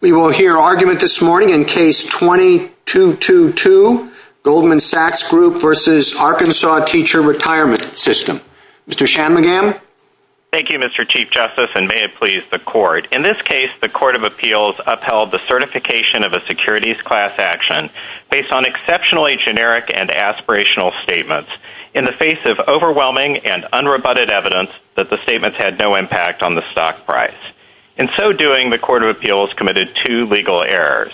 We will hear argument this morning in Case 2222, Goldman Sachs Group v. Arkansas Teacher Retirement System. Mr. Shanmugam? Thank you, Mr. Chief Justice, and may it please the Court. In this case, the Court of Appeals upheld the certification of a securities class action based on exceptionally generic and aspirational statements in the face of overwhelming and unrebutted evidence that the statements had no impact on the stock price. In so doing, the Court of Appeals committed two legal errors.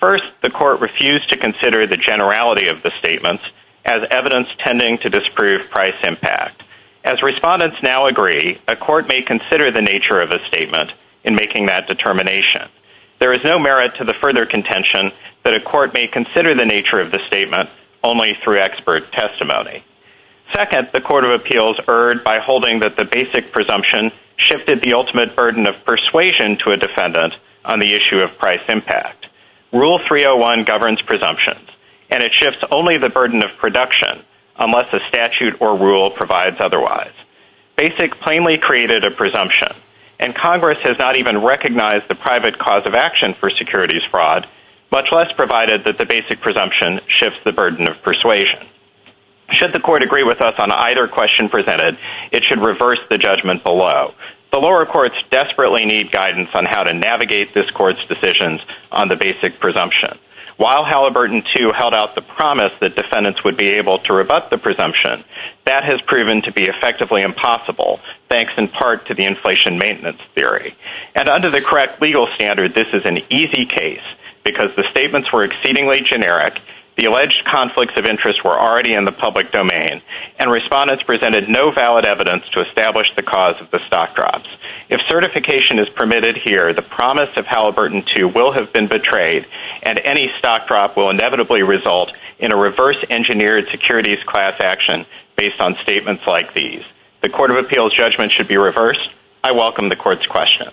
First, the Court refused to consider the generality of the statements as evidence tending to disprove price impact. As respondents now agree, a court may consider the nature of a statement in making that determination. There is no merit to the further contention that a court may consider the nature of the statement only through expert testimony. Second, the Court of Appeals erred by holding that the basic presumption shifted the ultimate burden of persuasion to a defendant on the issue of price impact. Rule 301 governs presumptions, and it shifts only the burden of production unless a statute or rule provides otherwise. Basic plainly created a presumption, and Congress has not even recognized the private cause of action for securities fraud, much less provided that the basic presumption shifts the burden of persuasion. Should the court agree with us on either question presented, it should reverse the judgment below. The lower courts desperately need guidance on how to navigate this court's decisions on the basic presumption. While Halliburton II held out the promise that defendants would be able to rebut the presumption, that has proven to be effectively impossible, thanks in part to the inflation maintenance theory. And under the correct legal standard, this is an easy case, because the statements were exceedingly generic, the alleged conflicts of interest were already in the public domain, and respondents presented no valid evidence to establish the cause of the stock drops. If certification is permitted here, the promise of Halliburton II will have been betrayed, and any stock drop will inevitably result in a reverse-engineered securities class action based on statements like these. The Court of Appeals judgment should be reversed. I welcome the Court's questions.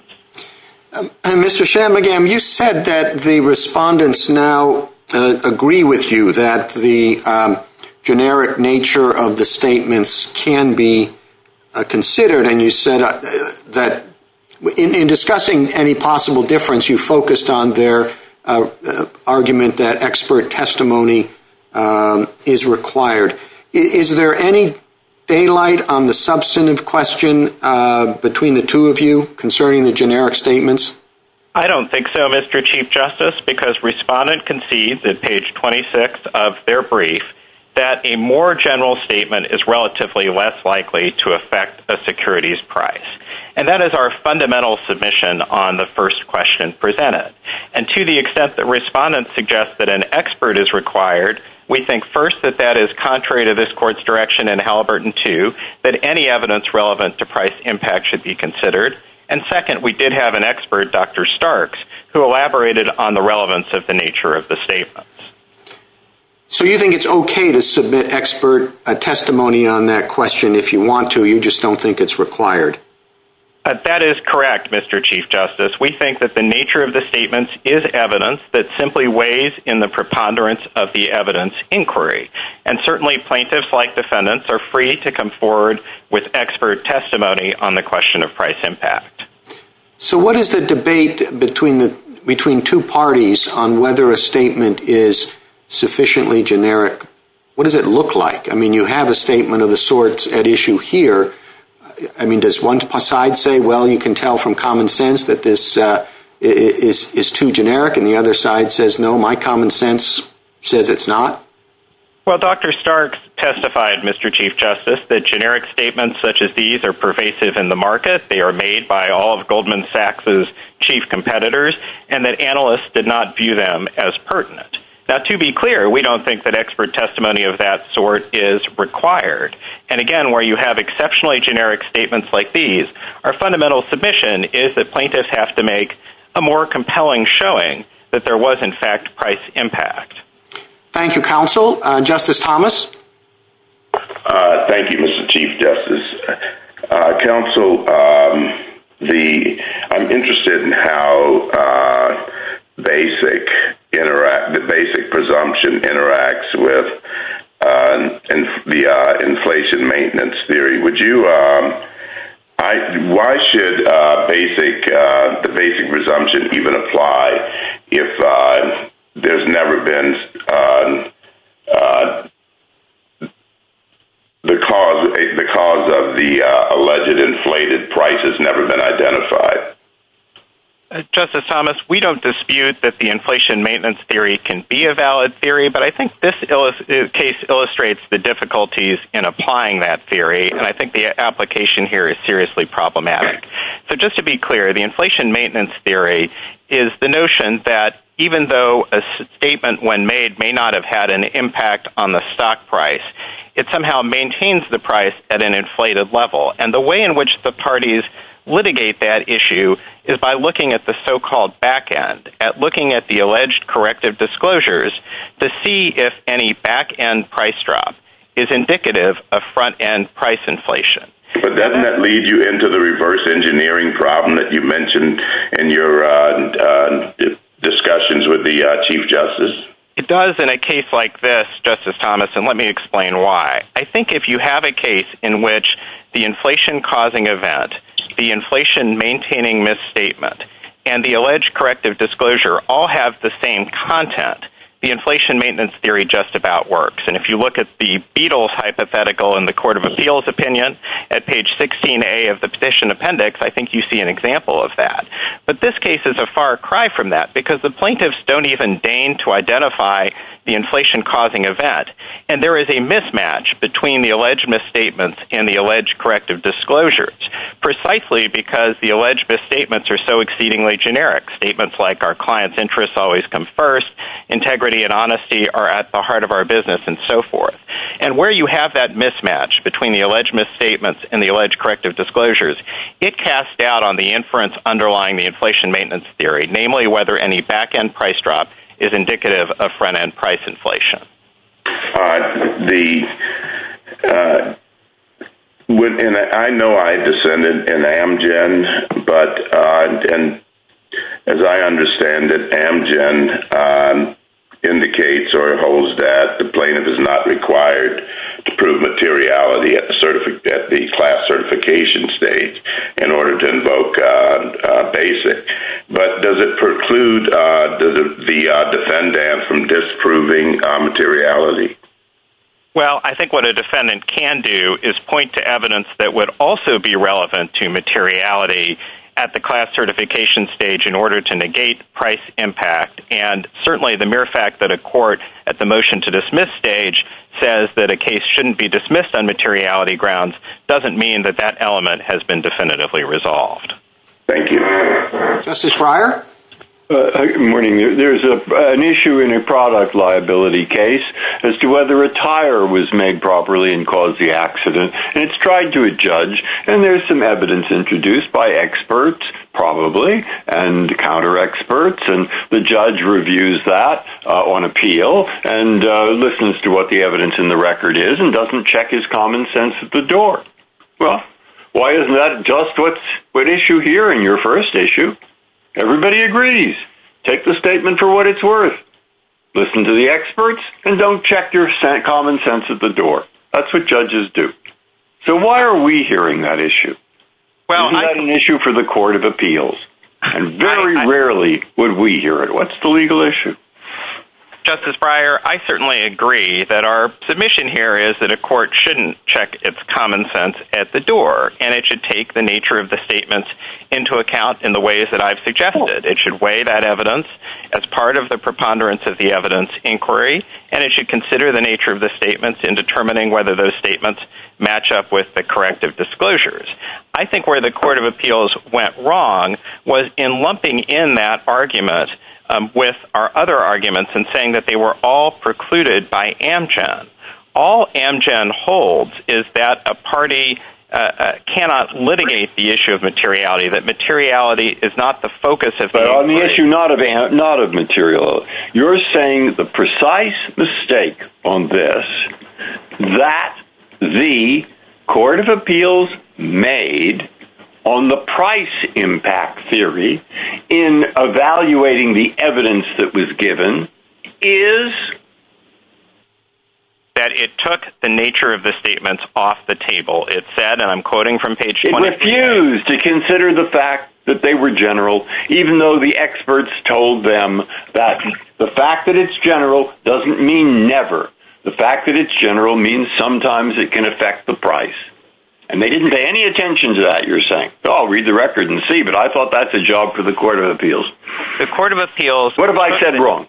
Mr. Shanmugam, you said that the respondents now agree with you that the generic nature of the statements can be considered, and you said that in discussing any possible difference, you focused on their argument that expert testimony is required. Is there any daylight on the substantive question between the two of you concerning the generic statements? I don't think so, Mr. Chief Justice, because respondent concedes at page 26 of their brief that a more general statement is relatively less likely to affect a securities price. And that is our fundamental submission on the first question presented. And to the extent that respondents suggest that an expert is required, we think first that that is contrary to this Court's direction in Halliburton II, that any evidence relevant to price impact should be considered, and second, we did have an expert, Dr. Starks, who elaborated on the relevance of the nature of the statements. So you think it's okay to submit expert testimony on that question if you want to, you just don't think it's required? That is correct, Mr. Chief Justice. We think that the nature of the statements is evidence that simply weighs in the preponderance of the evidence inquiry, and certainly plaintiffs like defendants are free to come forward with expert testimony on the question of price impact. So what is the debate between two parties on whether a statement is sufficiently generic? What does it look like? I mean, you have a statement of the sorts at issue here. I mean, does one side say, well, you can tell from common sense that this is too generic, and the other side says, no, my common sense says it's not? Well, Dr. Starks testified, Mr. Chief Justice, that generic statements such as these are pervasive in the market, they are made by all of Goldman Sachs' chief competitors, and that analysts did not view them as pertinent. Now, to be clear, we don't think that expert testimony of that sort is required, and again, where you have exceptionally generic statements like these, our fundamental submission is that plaintiffs have to make a more compelling showing that there was, in fact, price impact. Thank you, counsel. Justice Thomas? Thank you, Mr. Chief Justice. Counsel, I'm interested in how the basic presumption interacts with the inflation maintenance theory. Why should the basic presumption even apply if the cause of the alleged inflated price has never been identified? Justice Thomas, we don't dispute that the inflation maintenance theory can be a valid theory, but I think this case illustrates the difficulties in applying that theory, and I think the application here is seriously problematic. So just to be clear, the inflation maintenance theory is the notion that, even though a statement when made may not have had an impact on the stock price, it somehow maintains the price at an inflated level, and the way in which the parties litigate that issue is by looking at the so-called back end, at looking at the alleged corrective disclosures to see if any back end price drop is indicative of front end price inflation. But doesn't that lead you into the reverse engineering problem that you mentioned in your discussions with the Chief Justice? It does in a case like this, Justice Thomas, and let me explain why. I think if you have a case in which the inflation-causing event, the inflation-maintaining misstatement, and the alleged corrective disclosure all have the same content, the inflation maintenance theory just about works. And if you look at the Beatles hypothetical in the Court of Appeals opinion, at page 16A of the petition appendix, I think you see an example of that. But this case is a far cry from that, because the plaintiffs don't even deign to identify the inflation-causing event, and there is a mismatch between the alleged misstatements and the alleged corrective disclosures, precisely because the alleged misstatements are so exceedingly generic. Statements like, our clients' interests always come first, integrity and honesty are at the heart of our business, and so forth. And where you have that mismatch between the alleged misstatements and the alleged corrective disclosures, it casts doubt on the inference underlying the inflation maintenance theory, namely whether any back-end price drop is indicative of front-end price inflation. I know I descended in Amgen, but as I understand it, Amgen indicates or holds that the plaintiff is not required to prove materiality at the class certification stage in order to invoke BASIC. But does it preclude the defendant from disproving materiality? Well, I think what a defendant can do is point to evidence that would also be relevant to materiality at the class certification stage in order to negate price impact. And certainly the mere fact that a court at the motion-to-dismiss stage says that a case shouldn't be dismissed on materiality grounds doesn't mean that that element has been definitively resolved. Thank you. Justice Breyer? Good morning. There's an issue in a product liability case as to whether a tire was made properly and caused the accident. And it's tried to a judge, and there's some evidence introduced by experts, probably, and counter-experts, and the judge reviews that on appeal and listens to what the evidence in the record is and doesn't check his common sense at the door. Well, why isn't that just what's at issue here in your first issue? Everybody agrees. Take the statement for what it's worth. Listen to the experts and don't check your common sense at the door. That's what judges do. So why are we hearing that issue? Isn't that an issue for the Court of Appeals? And very rarely would we hear it. What's the legal issue? Justice Breyer, I certainly agree that our submission here is that a court shouldn't check its common sense at the door, and it should take the nature of the statement into account in the ways that I've suggested. It should weigh that evidence as part of the preponderance of the evidence inquiry, and it should consider the nature of the statements in determining whether those statements match up with the corrective disclosures. I think where the Court of Appeals went wrong was in lumping in that argument with our other arguments and saying that they were all precluded by Amgen. All Amgen holds is that a party cannot litigate the issue of materiality, that materiality is not the focus of the issue. But on the issue not of materiality, you're saying the precise mistake on this that the Court of Appeals made on the price impact theory in evaluating the evidence that was given is that it took the nature of the statements off the table. It said, and I'm quoting from page 20. It refused to consider the fact that they were general, even though the experts told them that the fact that it's general doesn't mean never. The fact that it's general means sometimes it can affect the price. And they didn't pay any attention to that, you're saying. I'll read the record and see, but I thought that's a job for the Court of Appeals. What have I said wrong?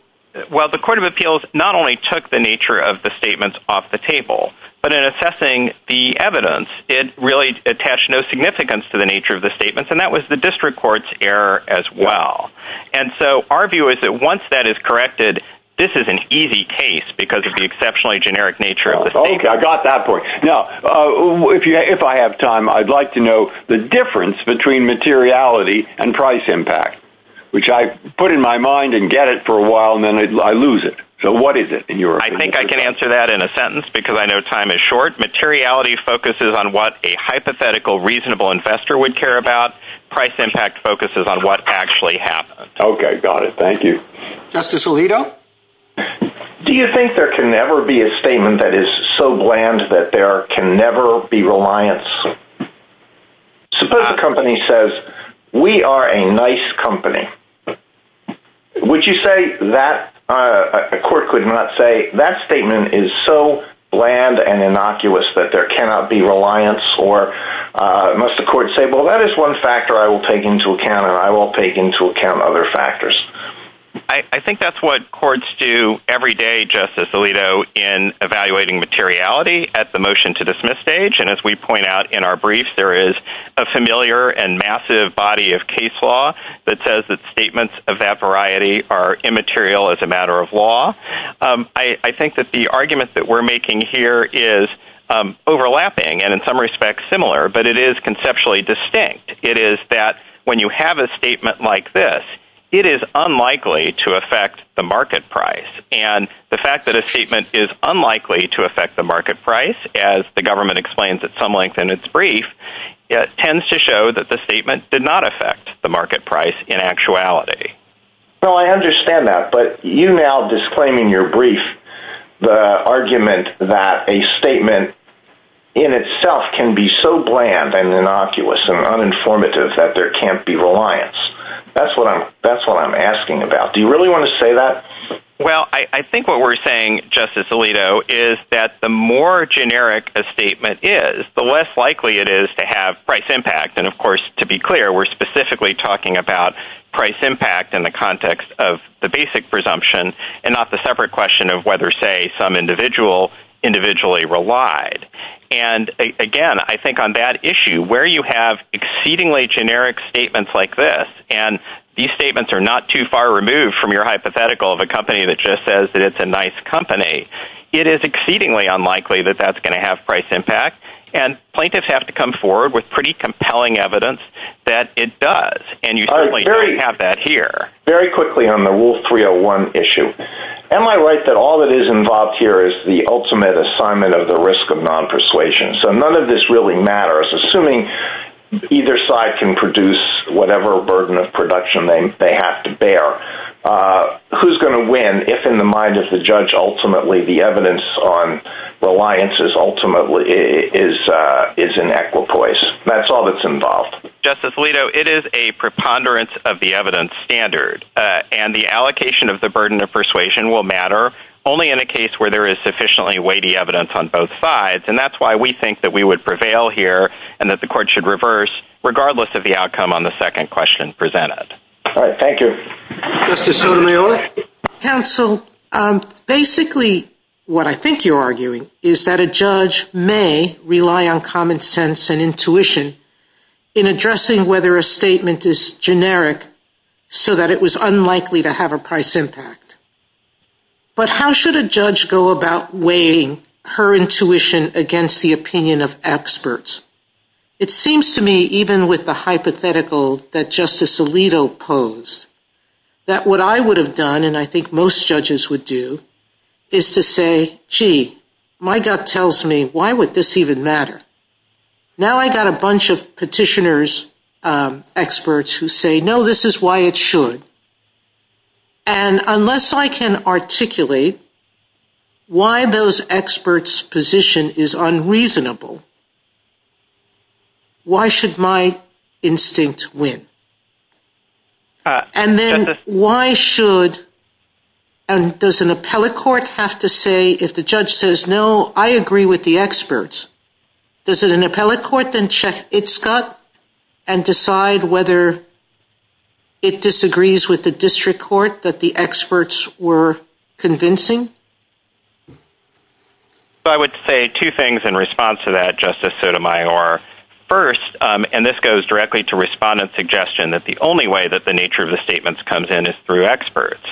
Well, the Court of Appeals not only took the nature of the statements off the table, but in assessing the evidence, it really attached no significance to the nature of the statements, and that was the district court's error as well. And so our view is that once that is corrected, this is an easy case because of the exceptionally generic nature of the statement. Okay, I got that point. Now, if I have time, I'd like to know the difference between materiality and price impact, which I put in my mind and get it for a while, and then I lose it. So what is it? I think I can answer that in a sentence because I know time is short. Materiality focuses on what a hypothetical, reasonable investor would care about. Price impact focuses on what actually happened. Okay, got it. Thank you. Justice Alito? Do you think there can never be a statement that is so bland that there can never be reliance? Suppose a company says, we are a nice company. Would you say that a court could not say that statement is so bland and innocuous that there cannot be reliance, or must the court say, well, that is one factor I will take into account, or I will take into account other factors? I think that's what courts do every day, Justice Alito, in evaluating materiality at the motion-to-dismiss stage, and as we point out in our briefs, there is a familiar and massive body of case law that says that statements of that variety are immaterial as a matter of law. I think that the argument that we're making here is overlapping and in some respects similar, but it is conceptually distinct. It is that when you have a statement like this, it is unlikely to affect the market price, and the fact that a statement is unlikely to affect the market price, as the government explains at some length in its brief, it tends to show that the statement did not affect the market price in actuality. Well, I understand that, but you now, disclaiming your brief, the argument that a statement in itself can be so bland and innocuous and uninformative that there can't be reliance, that's what I'm asking about. Do you really want to say that? Well, I think what we're saying, Justice Alito, is that the more generic a statement is, the less likely it is to have price impact, and of course, to be clear, we're specifically talking about price impact in the context of the basic presumption and not the separate question of whether, say, some individual individually relied. And again, I think on that issue, where you have exceedingly generic statements like this, and these statements are not too far removed from your hypothetical of a company that just says that it's a nice company, it is exceedingly unlikely that that's going to have price impact, and plaintiffs have to come forward with pretty compelling evidence that it does, and you certainly don't have that here. Very quickly on the Rule 301 issue. Am I right that all that is involved here is the ultimate assignment of the risk of non-persuasion? So none of this really matters. Assuming either side can produce whatever burden of production they have to bear, who's going to win if, in the mind of the judge, ultimately the evidence on reliance is in equipoise? That's all that's involved. Justice Alito, it is a preponderance of the evidence standard, and the allocation of the burden of persuasion will matter only in a case where there is sufficiently weighty evidence on both sides, and that's why we think that we would prevail here and that the Court should reverse regardless of the outcome on the second question presented. All right. Thank you. Justice Sotomayor? Counsel, basically what I think you're arguing is that a judge may rely on common sense and intuition in addressing whether a statement is generic so that it was unlikely to have a price impact. But how should a judge go about weighing her intuition against the opinion of experts? It seems to me, even with the hypothetical that Justice Alito posed, that what I would have done, and I think most judges would do, is to say, gee, my gut tells me, why would this even matter? Now I've got a bunch of petitioners, experts, who say, no, this is why it should. And unless I can articulate why those experts' position is unreasonable, why should my instinct win? And then why should, and does an appellate court have to say, if the judge says, no, I agree with the experts, does an appellate court then check its gut and decide whether it disagrees with the district court that the experts were convincing? I would say two things in response to that, Justice Sotomayor. First, and this goes directly to Respondent's suggestion, that the only way that the nature of the statements comes in is through experts.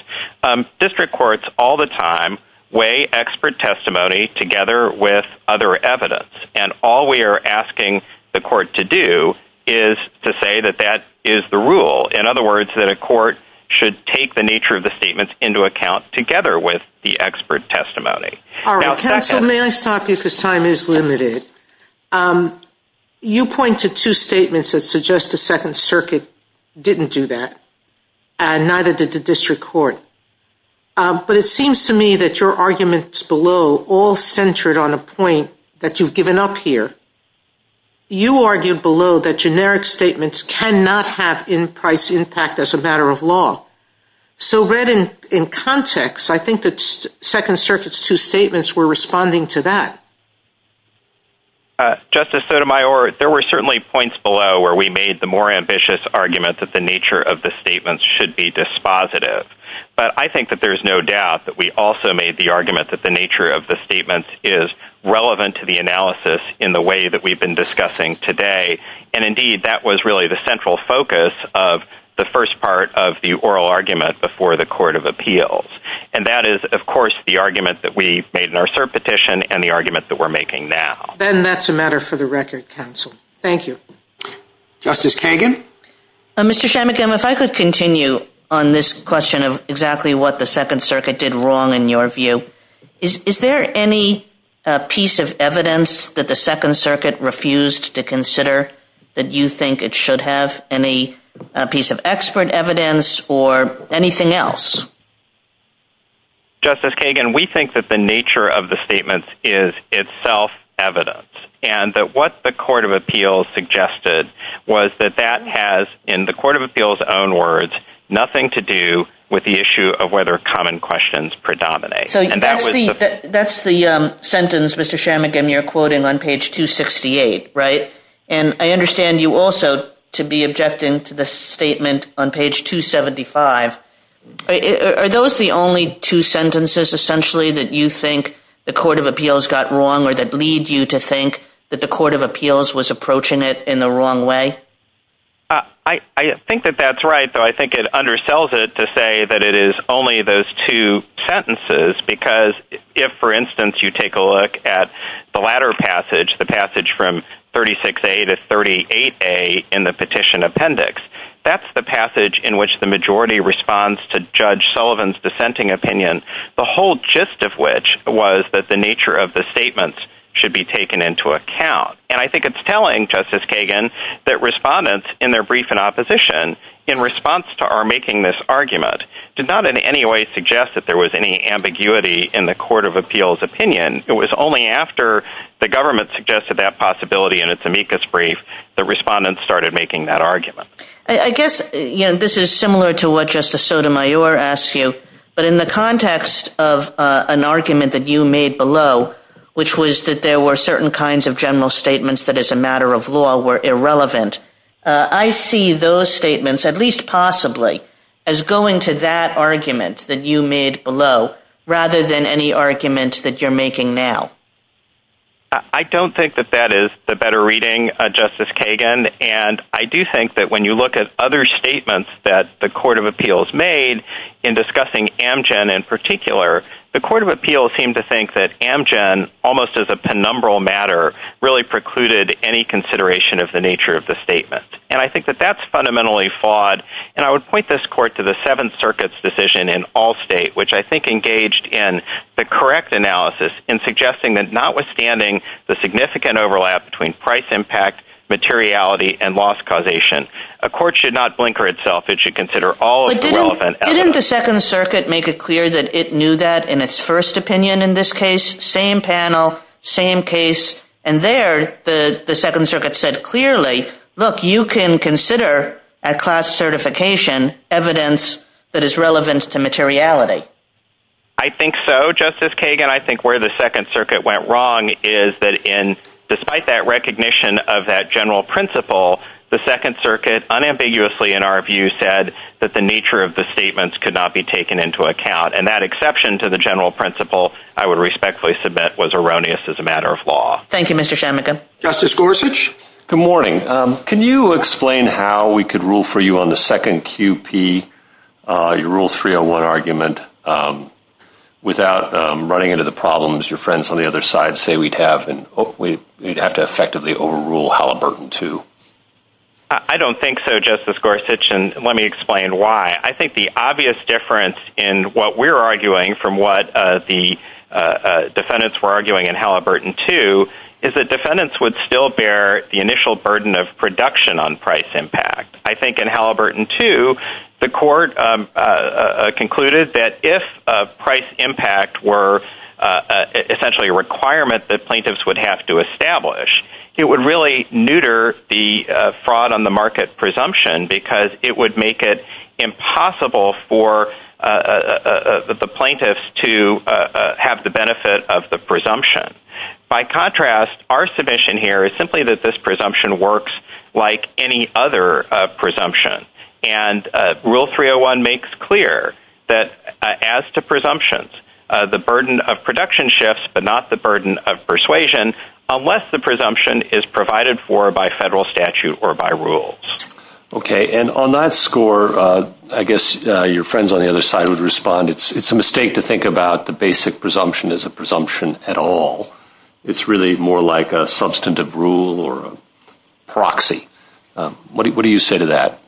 District courts all the time weigh expert testimony together with other evidence. And all we are asking the court to do is to say that that is the rule. In other words, that a court should take the nature of the statements into account together with the expert testimony. All right, counsel, may I stop you because time is limited? You pointed to two statements that suggest the Second Circuit didn't do that, and neither did the district court. But it seems to me that your arguments below all centered on a point that you've given up here. You argued below that generic statements cannot have in price impact as a matter of law. So read in context, I think that Second Circuit's two statements were responding to that. Justice Sotomayor, there were certainly points below where we made the more ambitious argument that the nature of the statements should be dispositive. But I think that there's no doubt that we also made the argument that the nature of the statements is relevant to the analysis in the way that we've been discussing today. And indeed, that was really the central focus of the first part of the oral argument before the Court of Appeals. And that is, of course, the argument that we made in our cert petition and the argument that we're making now. Then that's a matter for the record, counsel. Thank you. Justice Kagan? Mr. Chamatham, if I could continue on this question of exactly what the Second Circuit did wrong in your view. Is there any piece of evidence that the Second Circuit refused to consider that you think it should have? Any piece of expert evidence or anything else? Justice Kagan, we think that the nature of the statements is itself evidence. And that what the Court of Appeals suggested was that that has, in the Court of Appeals' own words, nothing to do with the issue of whether common questions predominate. That's the sentence, Mr. Chamatham, you're quoting on page 268, right? And I understand you also to be objecting to the statement on page 275. Are those the only two sentences essentially that you think the Court of Appeals got wrong or that lead you to think that the Court of Appeals was approaching it in the wrong way? I think that that's right, but I think it undersells it to say that it is only those two sentences because if, for instance, you take a look at the latter passage, the passage from 36A to 38A in the petition appendix, that's the passage in which the majority responds to Judge Sullivan's dissenting opinion, the whole gist of which was that the nature of the statements should be taken into account. And I think it's telling, Justice Kagan, that respondents in their brief in opposition, in response to our making this argument, did not in any way suggest that there was any ambiguity in the Court of Appeals' opinion. It was only after the government suggested that possibility in its amicus brief that respondents started making that argument. I guess this is similar to what Justice Sotomayor asked you, but in the context of an argument that you made below, which was that there were certain kinds of general statements that as a matter of law were irrelevant, I see those statements, at least possibly, as going to that argument that you made below rather than any argument that you're making now. I don't think that that is the better reading, Justice Kagan, and I do think that when you look at other statements that the Court of Appeals made, in discussing Amgen in particular, the Court of Appeals seemed to think that Amgen, almost as a penumbral matter, really precluded any consideration of the nature of the statement. And I think that that's fundamentally flawed, and I would point this Court to the Seventh Circuit's decision in Allstate, which I think engaged in the correct analysis in suggesting that notwithstanding the significant overlap between price impact, materiality, and loss causation, a court should not blinker itself. It should consider all of the relevant elements. Didn't the Second Circuit make it clear that it knew that in its first opinion in this case? Same panel, same case, and there the Second Circuit said clearly, look, you can consider at cost certification evidence that is relevant to materiality. I think so, Justice Kagan. I think where the Second Circuit went wrong is that despite that recognition of that general principle, the Second Circuit unambiguously, in our view, said that the nature of the statements could not be taken into account. And that exception to the general principle, I would respectfully submit, was erroneous as a matter of law. Thank you, Mr. Chamatham. Justice Gorsuch? Good morning. Can you explain how we could rule for you on the second QP, your Rule 301 argument, without running into the problems your friends on the other side say we'd have, and hopefully we'd have to effectively overrule Halliburton 2? I don't think so, Justice Gorsuch, and let me explain why. I think the obvious difference in what we're arguing from what the defendants were arguing in Halliburton 2 is that defendants would still bear the initial burden of production on price impact. I think in Halliburton 2, the Court concluded that if price impact were essentially a requirement that plaintiffs would have to establish, it would really neuter the fraud on the market presumption because it would make it impossible for the plaintiffs to have the benefit of the presumption. By contrast, our submission here is simply that this presumption works like any other presumption, and Rule 301 makes clear that as to presumptions, the burden of production shifts but not the burden of persuasion unless the presumption is provided for by federal statute or by rules. Okay, and on that score, I guess your friends on the other side would respond, it's a mistake to think about the basic presumption as a presumption at all. It's really more like a substantive rule or a proxy. What do you say to that?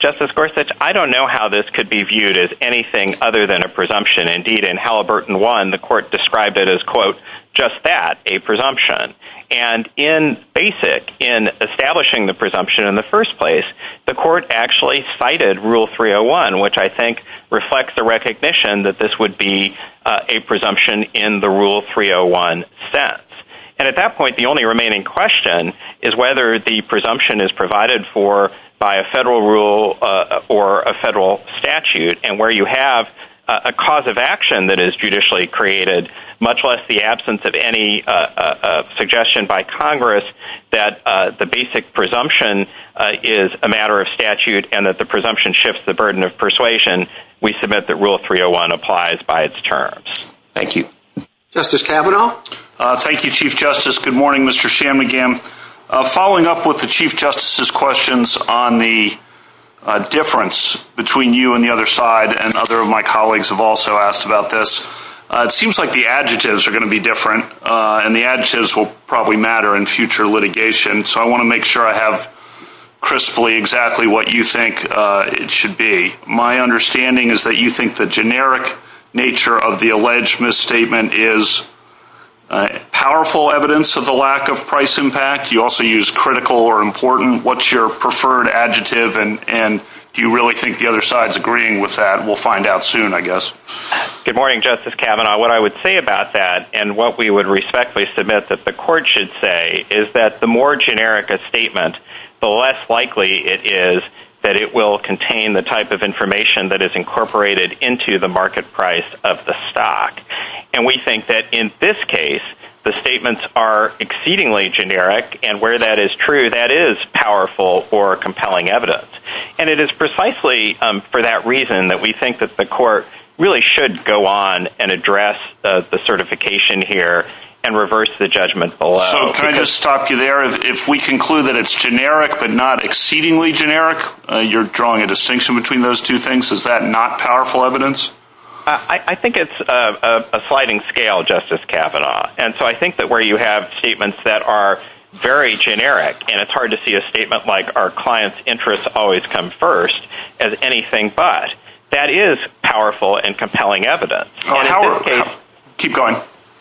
Justice Gorsuch, I don't know how this could be viewed as anything other than a presumption. Indeed, in Halliburton 1, the Court described it as, quote, just that, a presumption. And in basic, in establishing the presumption in the first place, the Court actually cited Rule 301, which I think reflects the recognition that this would be a presumption in the Rule 301 sense. And at that point, the only remaining question is whether the presumption is provided for by a federal rule or a federal statute, and where you have a cause of action that is judicially created, much less the absence of any suggestion by Congress that the basic presumption is a matter of statute and that the presumption shifts the burden of persuasion, we submit that Rule 301 applies by its terms. Thank you. Justice Kavanaugh? Thank you, Chief Justice. Good morning, Mr. Shanmugam. Following up with the Chief Justice's questions on the difference between you and the other side, and other of my colleagues have also asked about this, it seems like the adjectives are going to be different, and the adjectives will probably matter in future litigation, so I want to make sure I have crisply exactly what you think it should be. My understanding is that you think the generic nature of the alleged misstatement is powerful evidence of the lack of price impact. You also use critical or important. What's your preferred adjective, and do you really think the other side is agreeing with that? We'll find out soon, I guess. Good morning, Justice Kavanaugh. What I would say about that, and what we would respectfully submit that the Court should say, is that the more generic a statement, the less likely it is that it will contain the type of information that is incorporated into the market price of the stock. And we think that in this case, the statements are exceedingly generic, and where that is true, that is powerful or compelling evidence. And it is precisely for that reason that we think that the Court really should go on and address the certification here and reverse the judgment below. So can I just stop you there? If we conclude that it's generic but not exceedingly generic, you're drawing a distinction between those two things? Is that not powerful evidence? I think it's a sliding scale, Justice Kavanaugh. And so I think that where you have statements that are very generic, and it's hard to see a statement like, our clients' interests always come first as anything but, that is powerful and compelling evidence. Keep going.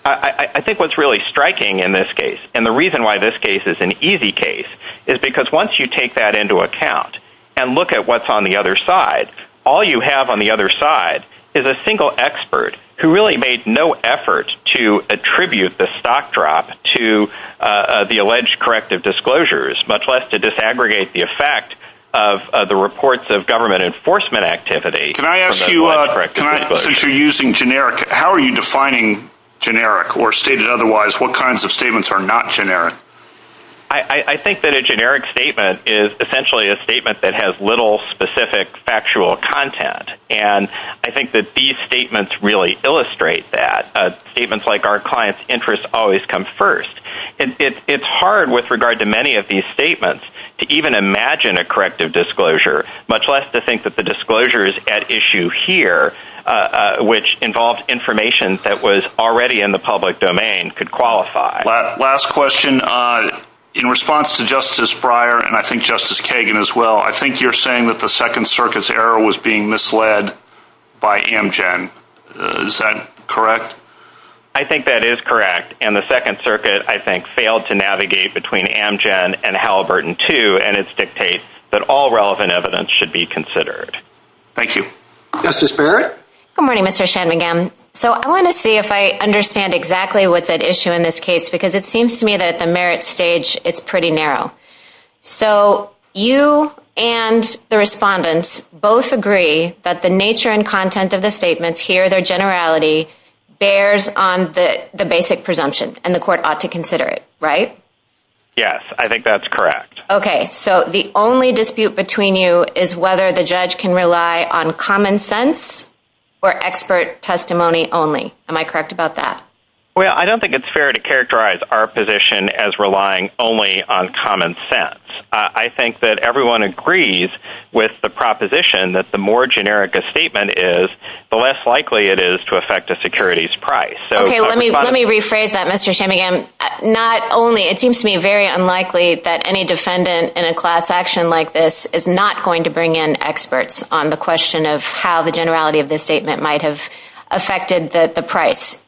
I think what's really striking in this case, and the reason why this case is an easy case, is because once you take that into account and look at what's on the other side, all you have on the other side is a single expert who really made no effort to attribute the stock drop to the alleged corrective disclosures, much less to disaggregate the effect of the reports of government enforcement activity. Can I ask you, since you're using generic, how are you defining generic or stated otherwise? What kinds of statements are not generic? I think that a generic statement is essentially a statement that has little specific, factual content, and I think that these statements really illustrate that. Statements like, our clients' interests always come first. It's hard with regard to many of these statements to even imagine a corrective disclosure, much less to think that the disclosures at issue here, which involve information that was already in the public domain, could qualify. Last question. In response to Justice Breyer, and I think Justice Kagan as well, I think you're saying that the Second Circuit's error was being misled by Amgen. Is that correct? I think that is correct, and the Second Circuit, I think, failed to navigate between Amgen and Halliburton II, and it dictates that all relevant evidence should be considered. Thank you. Justice Breyer? Good morning, Mr. Shanmugam. I want to see if I understand exactly what's at issue in this case, because it seems to me that the merit stage is pretty narrow. So you and the respondents both agree that the nature and content of the statements, here their generality, bears on the basic presumption, and the court ought to consider it, right? Yes, I think that's correct. Okay. So the only dispute between you is whether the judge can rely on common sense or expert testimony only. Am I correct about that? Well, I don't think it's fair to characterize our position as relying only on common sense. I think that everyone agrees with the proposition that the more generic a statement is, the less likely it is to affect a security's price. Okay, let me rephrase that, Mr. Shanmugam. Not only, it seems to me very unlikely that any defendant in a class action like this is not going to bring in experts on the question of how the generality of the statement might have affected the price,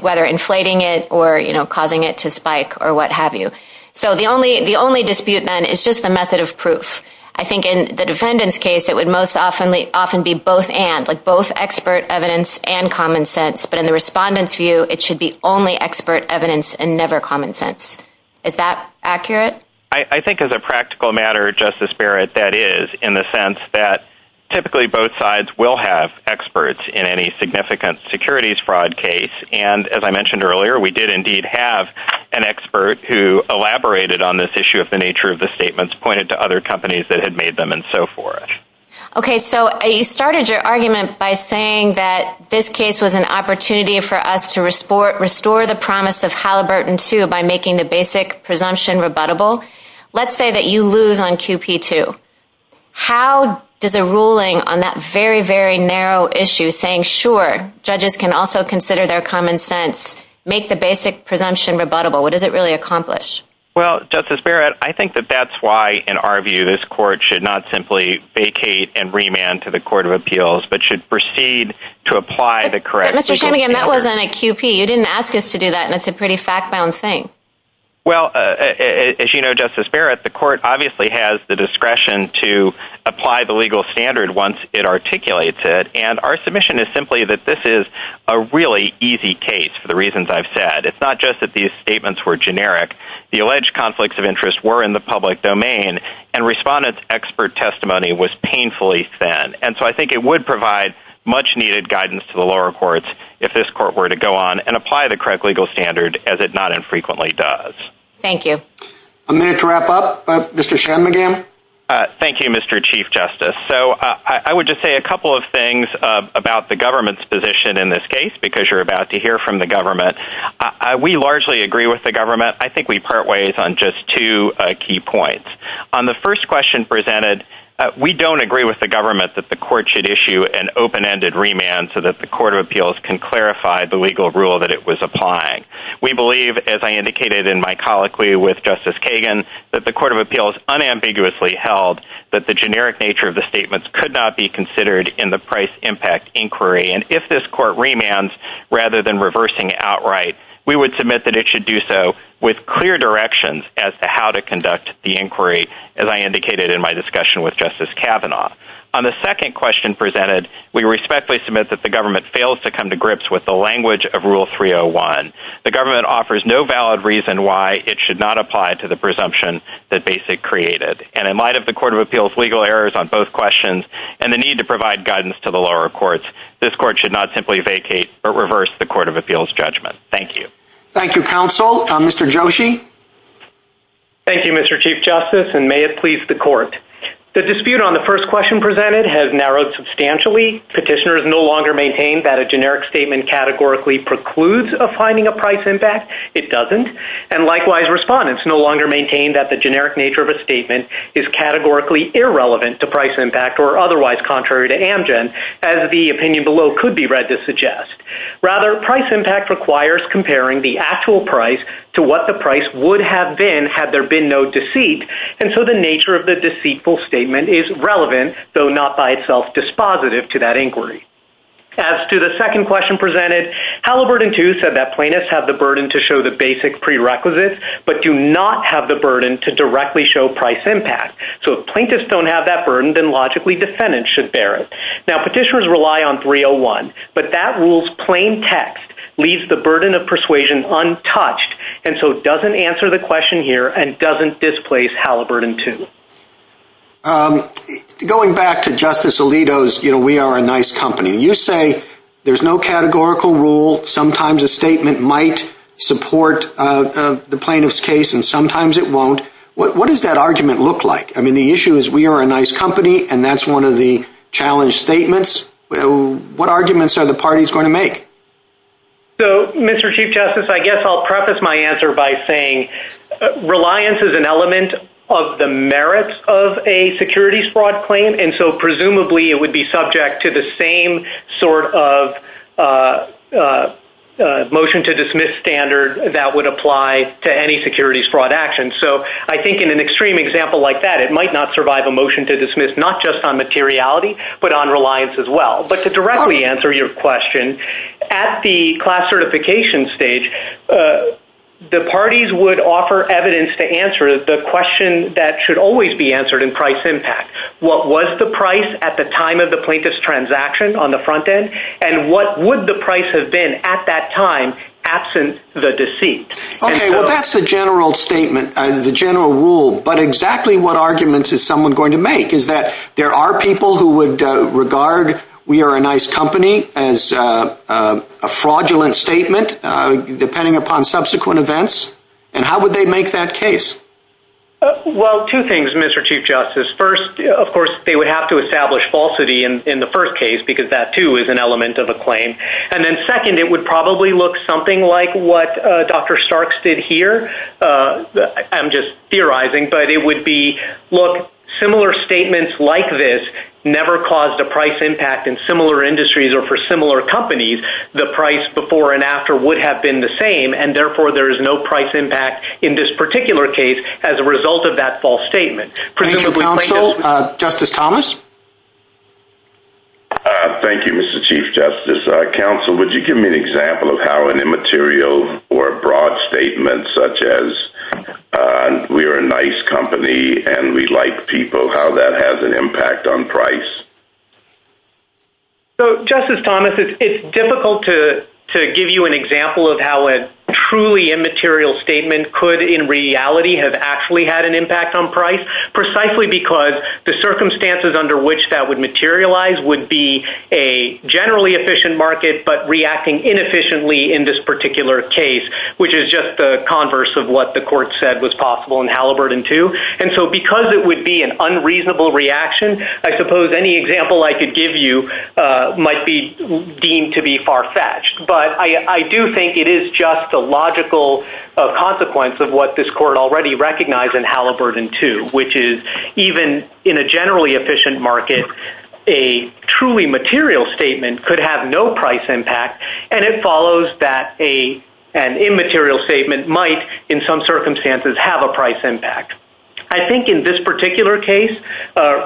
whether inflating it or causing it to spike or what have you. So the only dispute, then, is just the method of proof. I think in the defendant's case, it would most often be both and, like both expert evidence and common sense, but in the respondent's view, it should be only expert evidence and never common sense. Is that accurate? I think as a practical matter, Justice Barrett, that is, in the sense that typically both sides will have experts in any significant securities fraud case, and as I mentioned earlier, we did indeed have an expert who elaborated on this issue of the nature of the statements, pointed to other companies that had made them, and so forth. Okay, so you started your argument by saying that this case was an opportunity for us to restore the promise of Halliburton II by making the basic presumption rebuttable. Let's say that you lose on QP II. How does a ruling on that very, very narrow issue, saying, sure, judges can also consider their common sense, make the basic presumption rebuttable, what does it really accomplish? Well, Justice Barrett, I think that that's why, in our view, this Court should not simply vacate and remand to the Court of Appeals, but should proceed to apply the correct... Mr. Schoening, that wasn't a QP. You didn't ask us to do that, and that's a pretty fact-bound thing. Well, as you know, Justice Barrett, the Court obviously has the discretion to apply the legal standard once it articulates it, and our submission is simply that this is a really easy case for the reasons I've said. It's not just that these statements were generic. The alleged conflicts of interest were in the public domain, and respondents' expert testimony was painfully thin, and so I think it would provide much-needed guidance to the lower courts if this Court were to go on and apply the correct legal standard as it not infrequently does. Thank you. A minute to wrap up. Mr. Schoening again. Thank you, Mr. Chief Justice. So I would just say a couple of things about the government's position in this case, because you're about to hear from the government. We largely agree with the government. I think we part ways on just two key points. On the first question presented, we don't agree with the government that the Court should issue an open-ended remand so that the Court of Appeals can clarify the legal rule that it was applying. We believe, as I indicated in my colloquy with Justice Kagan, that the Court of Appeals unambiguously held that the generic nature of the statements could not be considered in the price-impact inquiry, and if this Court remands rather than reversing it outright, we would submit that it should do so with clear directions as to how to conduct the inquiry, as I indicated in my discussion with Justice Kavanaugh. On the second question presented, we respectfully submit that the government fails to come to grips with the language of Rule 301. The government offers no valid reason why it should not apply to the presumption that BASIC created, and in light of the Court of Appeals' legal errors on both questions and the need to provide guidance to the lower courts, this Court should not simply vacate or reverse the Court of Appeals' judgment. Thank you. Thank you, counsel. Mr. Joshi? Thank you, Mr. Chief Justice, and may it please the Court. The dispute on the first question presented has narrowed substantially. Petitioners no longer maintain that a generic statement categorically precludes a finding of price impact. It doesn't. And likewise, respondents no longer maintain that the generic nature of a statement is categorically irrelevant to price impact or otherwise contrary to Amgen, as the opinion below could be read to suggest. Rather, price impact requires comparing the actual price to what the price would have been had there been no deceit, and so the nature of the deceitful statement is relevant, though not by itself dispositive to that inquiry. As to the second question presented, Halliburton II said that plaintiffs have the burden to show the basic prerequisites but do not have the burden to directly show price impact. So if plaintiffs don't have that burden, then logically defendants should bear it. Now, petitioners rely on 301, but that rule's plain text leaves the burden of persuasion untouched, and so it doesn't answer the question here and doesn't displace Halliburton II. Going back to Justice Alito's, you know, we are a nice company. You say there's no categorical rule. Sometimes a statement might support the plaintiff's case and sometimes it won't. What does that argument look like? I mean, the issue is we are a nice company, and that's one of the challenge statements. What arguments are the parties going to make? So, Mr. Chief Justice, I guess I'll preface my answer by saying reliance is an element of the merits of a securities fraud claim, and so presumably it would be subject to the same sort of motion-to-dismiss standard that would apply to any securities fraud action. So I think in an extreme example like that, it might not survive a motion-to-dismiss, not just on materiality but on reliance as well. But to directly answer your question, at the class certification stage, the parties would offer evidence to answer the question that should always be answered in price impact. What was the price at the time of the plaintiff's transaction on the front end, and what would the price have been at that time absent the deceit? Okay, well, that's the general statement, the general rule, but exactly what arguments is someone going to make? Is that there are people who would regard We Are a Nice Company as a fraudulent statement depending upon subsequent events, and how would they make that case? Well, two things, Mr. Chief Justice. First, of course, they would have to establish falsity in the first case because that, too, is an element of a claim. And then second, it would probably look something like what Dr. Starks did here. I'm just theorizing, but it would be, look, similar statements like this never caused a price impact in similar industries or for similar companies. The price before and after would have been the same, and, therefore, there is no price impact in this particular case as a result of that false statement. Counsel, Justice Thomas? Thank you, Mr. Chief Justice. Counsel, would you give me an example of how an immaterial or a broad statement such as We Are a Nice Company and we like people, how that has an impact on price? So, Justice Thomas, it's difficult to give you an example of how a truly immaterial statement could in reality have actually had an impact on price precisely because the circumstances under which that would materialize would be a generally efficient market but reacting inefficiently in this particular case, which is just the converse of what the court said was possible in Halliburton II. And so because it would be an unreasonable reaction, I suppose any example I could give you might be deemed to be far-fetched. But I do think it is just a logical consequence of what this court already recognized in Halliburton II, which is even in a generally efficient market, a truly material statement could have no price impact and it follows that an immaterial statement might, in some circumstances, have a price impact. I think in this particular case,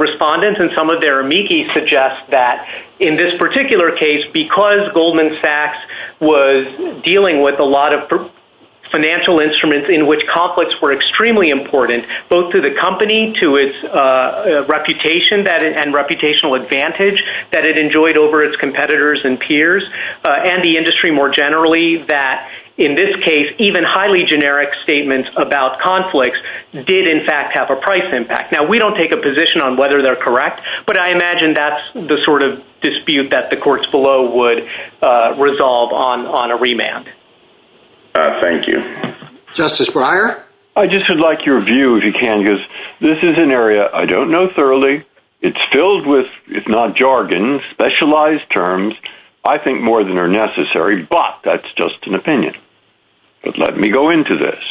respondents and some of their amici suggest that in this particular case, because Goldman Sachs was dealing with a lot of financial instruments in which conflicts were extremely important, both to the company, to its reputation and reputational advantage that it enjoyed over its competitors and peers, and the industry more generally, that in this case even highly generic statements about conflicts did in fact have a price impact. Now we don't take a position on whether they're correct, but I imagine that's the sort of dispute that the courts below would resolve on a remand. Thank you. Justice Breyer? I just would like your view, if you can, because this is an area I don't know thoroughly. It's filled with, if not jargon, specialized terms. I think more than are necessary, but that's just an opinion. But let me go into this.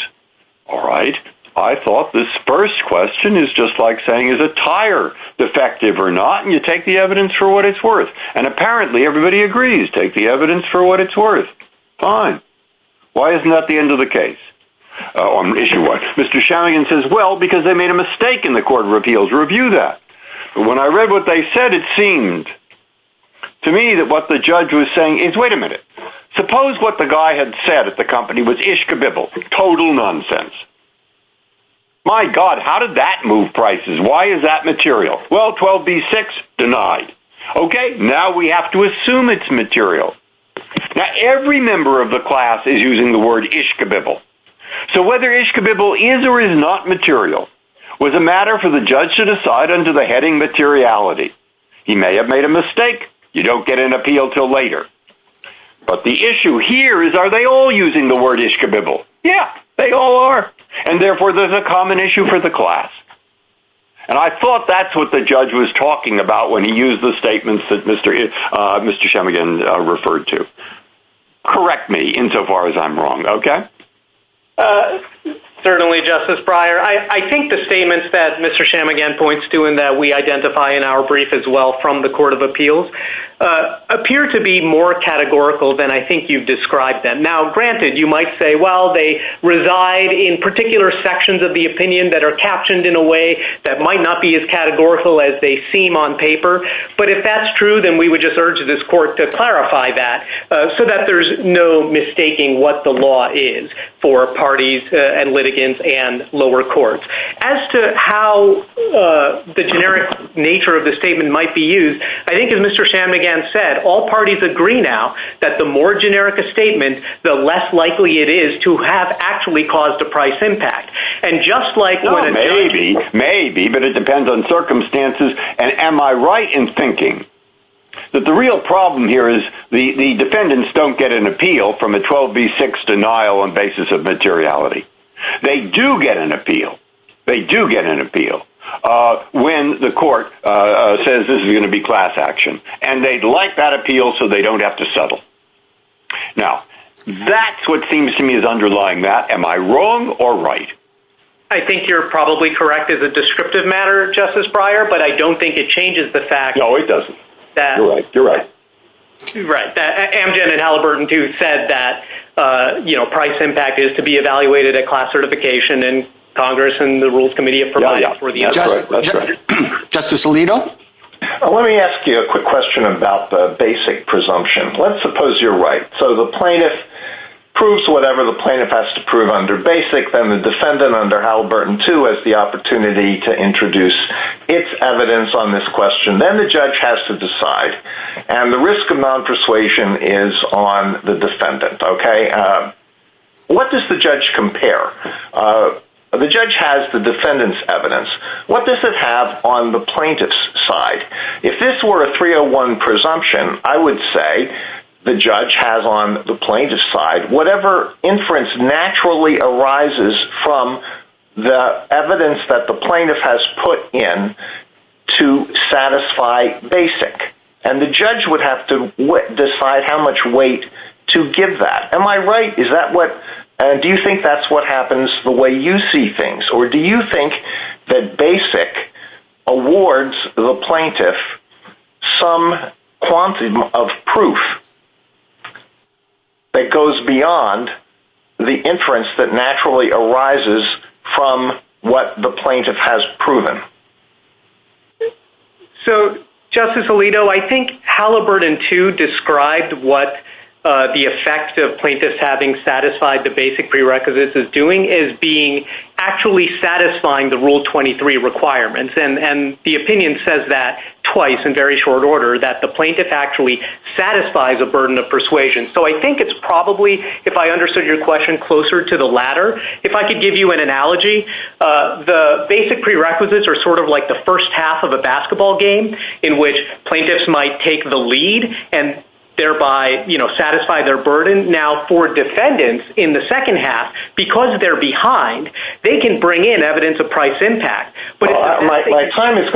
All right. I thought this first question is just like saying is a tire defective or not, and you take the evidence for what it's worth. And apparently everybody agrees, take the evidence for what it's worth. Fine. Why isn't that the end of the case? Mr. Shalyan says, well, because they made a mistake in the court of appeals. Review that. When I read what they said, it seemed to me that what the judge was saying is, wait a minute, suppose what the guy had said at the company was ishkabibble, total nonsense. My God, how did that move prices? Why is that material? Well, 12b-6, denied. Okay, now we have to assume it's material. Now, every member of the class is using the word ishkabibble. So whether ishkabibble is or is not material was a matter for the judge to decide under the heading materiality. He may have made a mistake. You don't get an appeal until later. But the issue here is, are they all using the word ishkabibble? Yeah, they all are. And therefore, there's a common issue for the class. And I thought that's what the judge was talking about when he used the word ishkabibble. Correct me insofar as I'm wrong. Okay? Certainly, Justice Breyer. I think the statements that Mr. Shammigan points to and that we identify in our brief as well from the Court of Appeals appear to be more categorical than I think you've described them. Now, granted, you might say, well, they reside in particular sections of the opinion that are captioned in a way that might not be as categorical as they seem on paper. But if that's true, then we would just urge this court to clarify that so that there's no mistaking what the law is for parties and litigants and lower courts. As to how the generic nature of the statement might be used, I think as Mr. Shammigan said, all parties agree now that the more generic a statement, the less likely it is to have actually caused a price impact. And just like when a judge. Maybe. Maybe. But it depends on circumstances. And am I right in thinking that the real problem here is the defendants don't get an appeal from a 12B6 denial on basis of materiality. They do get an appeal. They do get an appeal when the court says this is going to be class action and they'd like that appeal so they don't have to settle. Now, that's what seems to me is underlying that. Am I wrong or right? I think you're probably correct as a descriptive matter, Justice Breyer, but I don't think it changes the fact. No, it doesn't. You're right. You're right. Amgen and Halliburton do said that, you know, price impact is to be evaluated at class certification and Congress and the rules committee have provided for the other. Justice Alito. Let me ask you a quick question about the basic presumption. Let's suppose you're right. So the plaintiff proves whatever the plaintiff has to prove under basic and the defendant under Halliburton too has the opportunity to introduce its evidence on this question. Then the judge has to decide. And the risk of non-persuasion is on the defendant, okay? What does the judge compare? The judge has the defendant's evidence. What does it have on the plaintiff's side? If this were a 301 presumption, I would say the judge has on the plaintiff's side whatever inference naturally arises from the evidence that the plaintiff has put in to satisfy basic. And the judge would have to decide how much weight to give that. Am I right? Is that what do you think that's what happens the way you see things? Or do you think that basic awards the plaintiff some quantum of proof that goes beyond the inference that naturally arises from what the plaintiff has proven? So, Justice Alito, I think Halliburton too described what the effect of plaintiffs having satisfied the basic prerequisites is doing is being actually satisfying the Rule 23 requirements. And the opinion says that twice in very short order, that the plaintiff actually satisfies a burden of persuasion. So I think it's probably, if I understood your question, closer to the latter. If I could give you an analogy, the basic prerequisites are sort of like the first half of a basketball game in which plaintiffs might take the lead and thereby, you know, satisfy their burden. Now for defendants in the second half, because they're behind, they can bring in evidence of price impact. My time is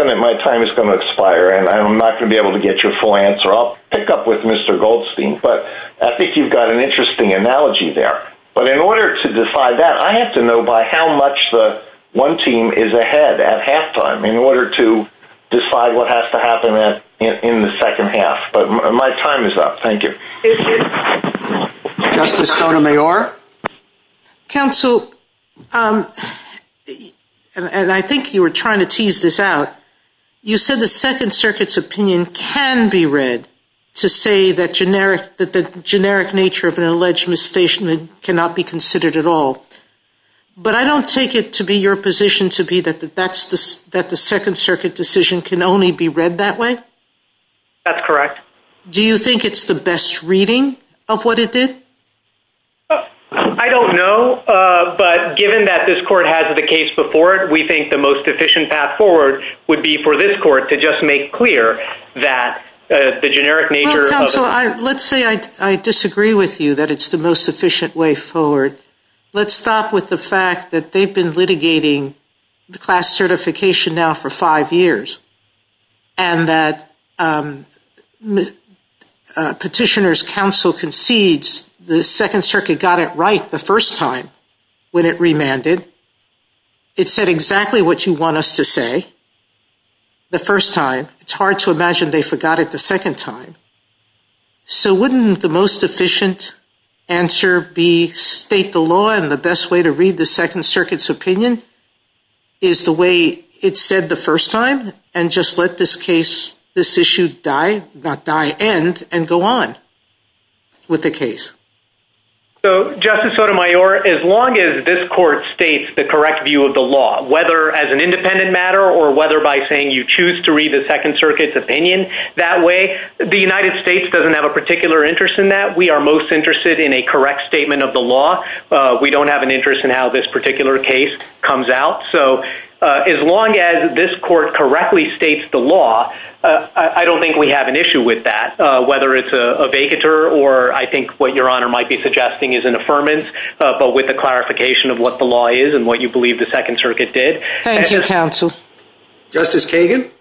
going to expire, and I'm not going to be able to get your full answer. I'll pick up with Mr. Goldstein. But I think you've got an interesting analogy there. But in order to decide that, I have to know by how much the one team is ahead at halftime in order to decide what has to happen in the second half. But my time is up. Thank you. Justice Sotomayor? Counsel, and I think you were trying to tease this out. You said the Second Circuit's opinion can be read to say that the generic nature of an alleged misstatement cannot be considered at all. But I don't take it to be your position to be that the Second Circuit decision can only be read that way? That's correct. Do you think it's the best reading of what it did? I don't know. But given that this court has the case before it, we think the most efficient path forward would be for this court to just make clear that the generic nature of the misstatement. Counsel, let's say I disagree with you that it's the most efficient way forward. Let's stop with the fact that they've been litigating the class certification now for five years, and that Petitioner's Counsel concedes the Second Circuit got it right the first time when it remanded. It said exactly what you want us to say the first time. It's hard to imagine they forgot it the second time. So wouldn't the most efficient answer be state the law and the best way to read the Second Circuit's opinion is the way it said the first time, and just let this issue die end and go on with the case? So, Justice Sotomayor, as long as this court states the correct view of the law, whether as an independent matter or whether by saying you choose to read the Second Circuit's opinion that way, the United States doesn't have a particular interest in that. We are most interested in a correct statement of the law. We don't have an interest in how this particular case comes out. So as long as this court correctly states the law, I don't think we have an issue with that, whether it's a vacatur or I think what Your Honor might be suggesting is an affirmance, but with a clarification of what the law is and what you believe the Second Circuit did. Thank you, Counsel. Justice Kagan?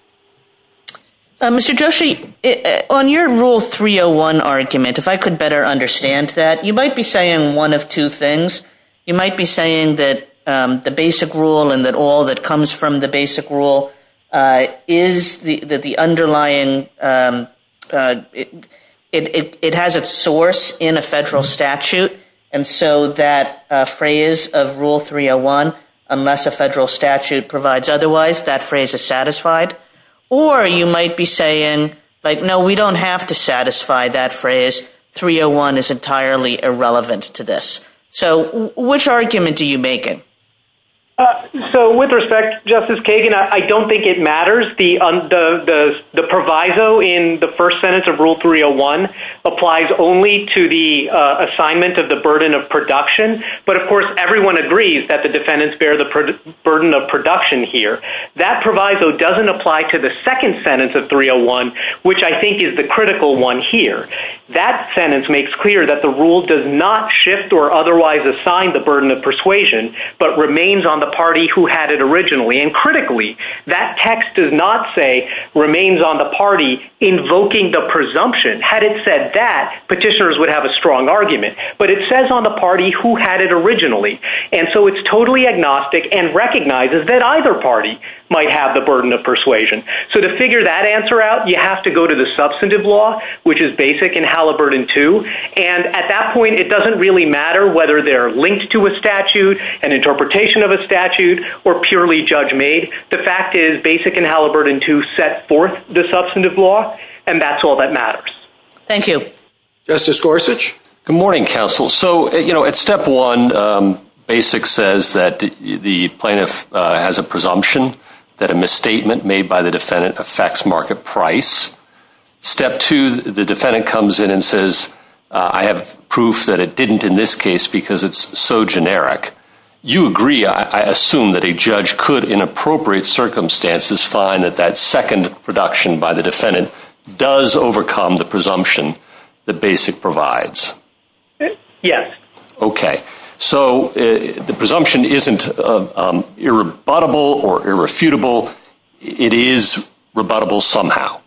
Mr. Joshi, on your Rule 301 argument, if I could better understand that, you might be saying one of two things. You might be saying that the basic rule and that all that comes from the basic rule is that the underlying, it has its source in a federal statute, and so that phrase of Rule 301, unless a federal statute provides otherwise, that phrase is satisfied. Or you might be saying, like, no, we don't have to satisfy that phrase. 301 is entirely irrelevant to this. So which argument do you make it? So with respect, Justice Kagan, I don't think it matters. The proviso in the first sentence of Rule 301 applies only to the assignment of the burden of production, but of course everyone agrees that the defendants bear the burden of production here. That proviso doesn't apply to the second sentence of 301, which I think is the critical one here. That sentence makes clear that the rule does not shift or otherwise assign the burden of persuasion, but remains on the party who had it originally. And critically, that text does not say remains on the party invoking the presumption. Had it said that, petitioners would have a strong argument. But it says on the party who had it originally, and so it's totally agnostic and recognizes that either party might have the burden of persuasion. So to figure that answer out, you have to go to the substantive law, which is Basic and Halliburton 2, and at that point, it doesn't really matter whether they're linked to a statute, an interpretation of a statute, or purely judge-made. The fact is Basic and Halliburton 2 set forth the substantive law, and that's all that matters. Thank you. Justice Gorsuch? Good morning, counsel. So, you know, at step one, Basic says that the plaintiff has a presumption that a misstatement made by the defendant affects market price. Step two, the defendant comes in and says, I have proof that it didn't in this case because it's so generic. You agree, I assume, that a judge could, in appropriate circumstances, find that that second production by the defendant does overcome the presumption that Basic provides. Yes. Okay. So the presumption isn't irrebuttable or irrefutable. It is rebuttable somehow.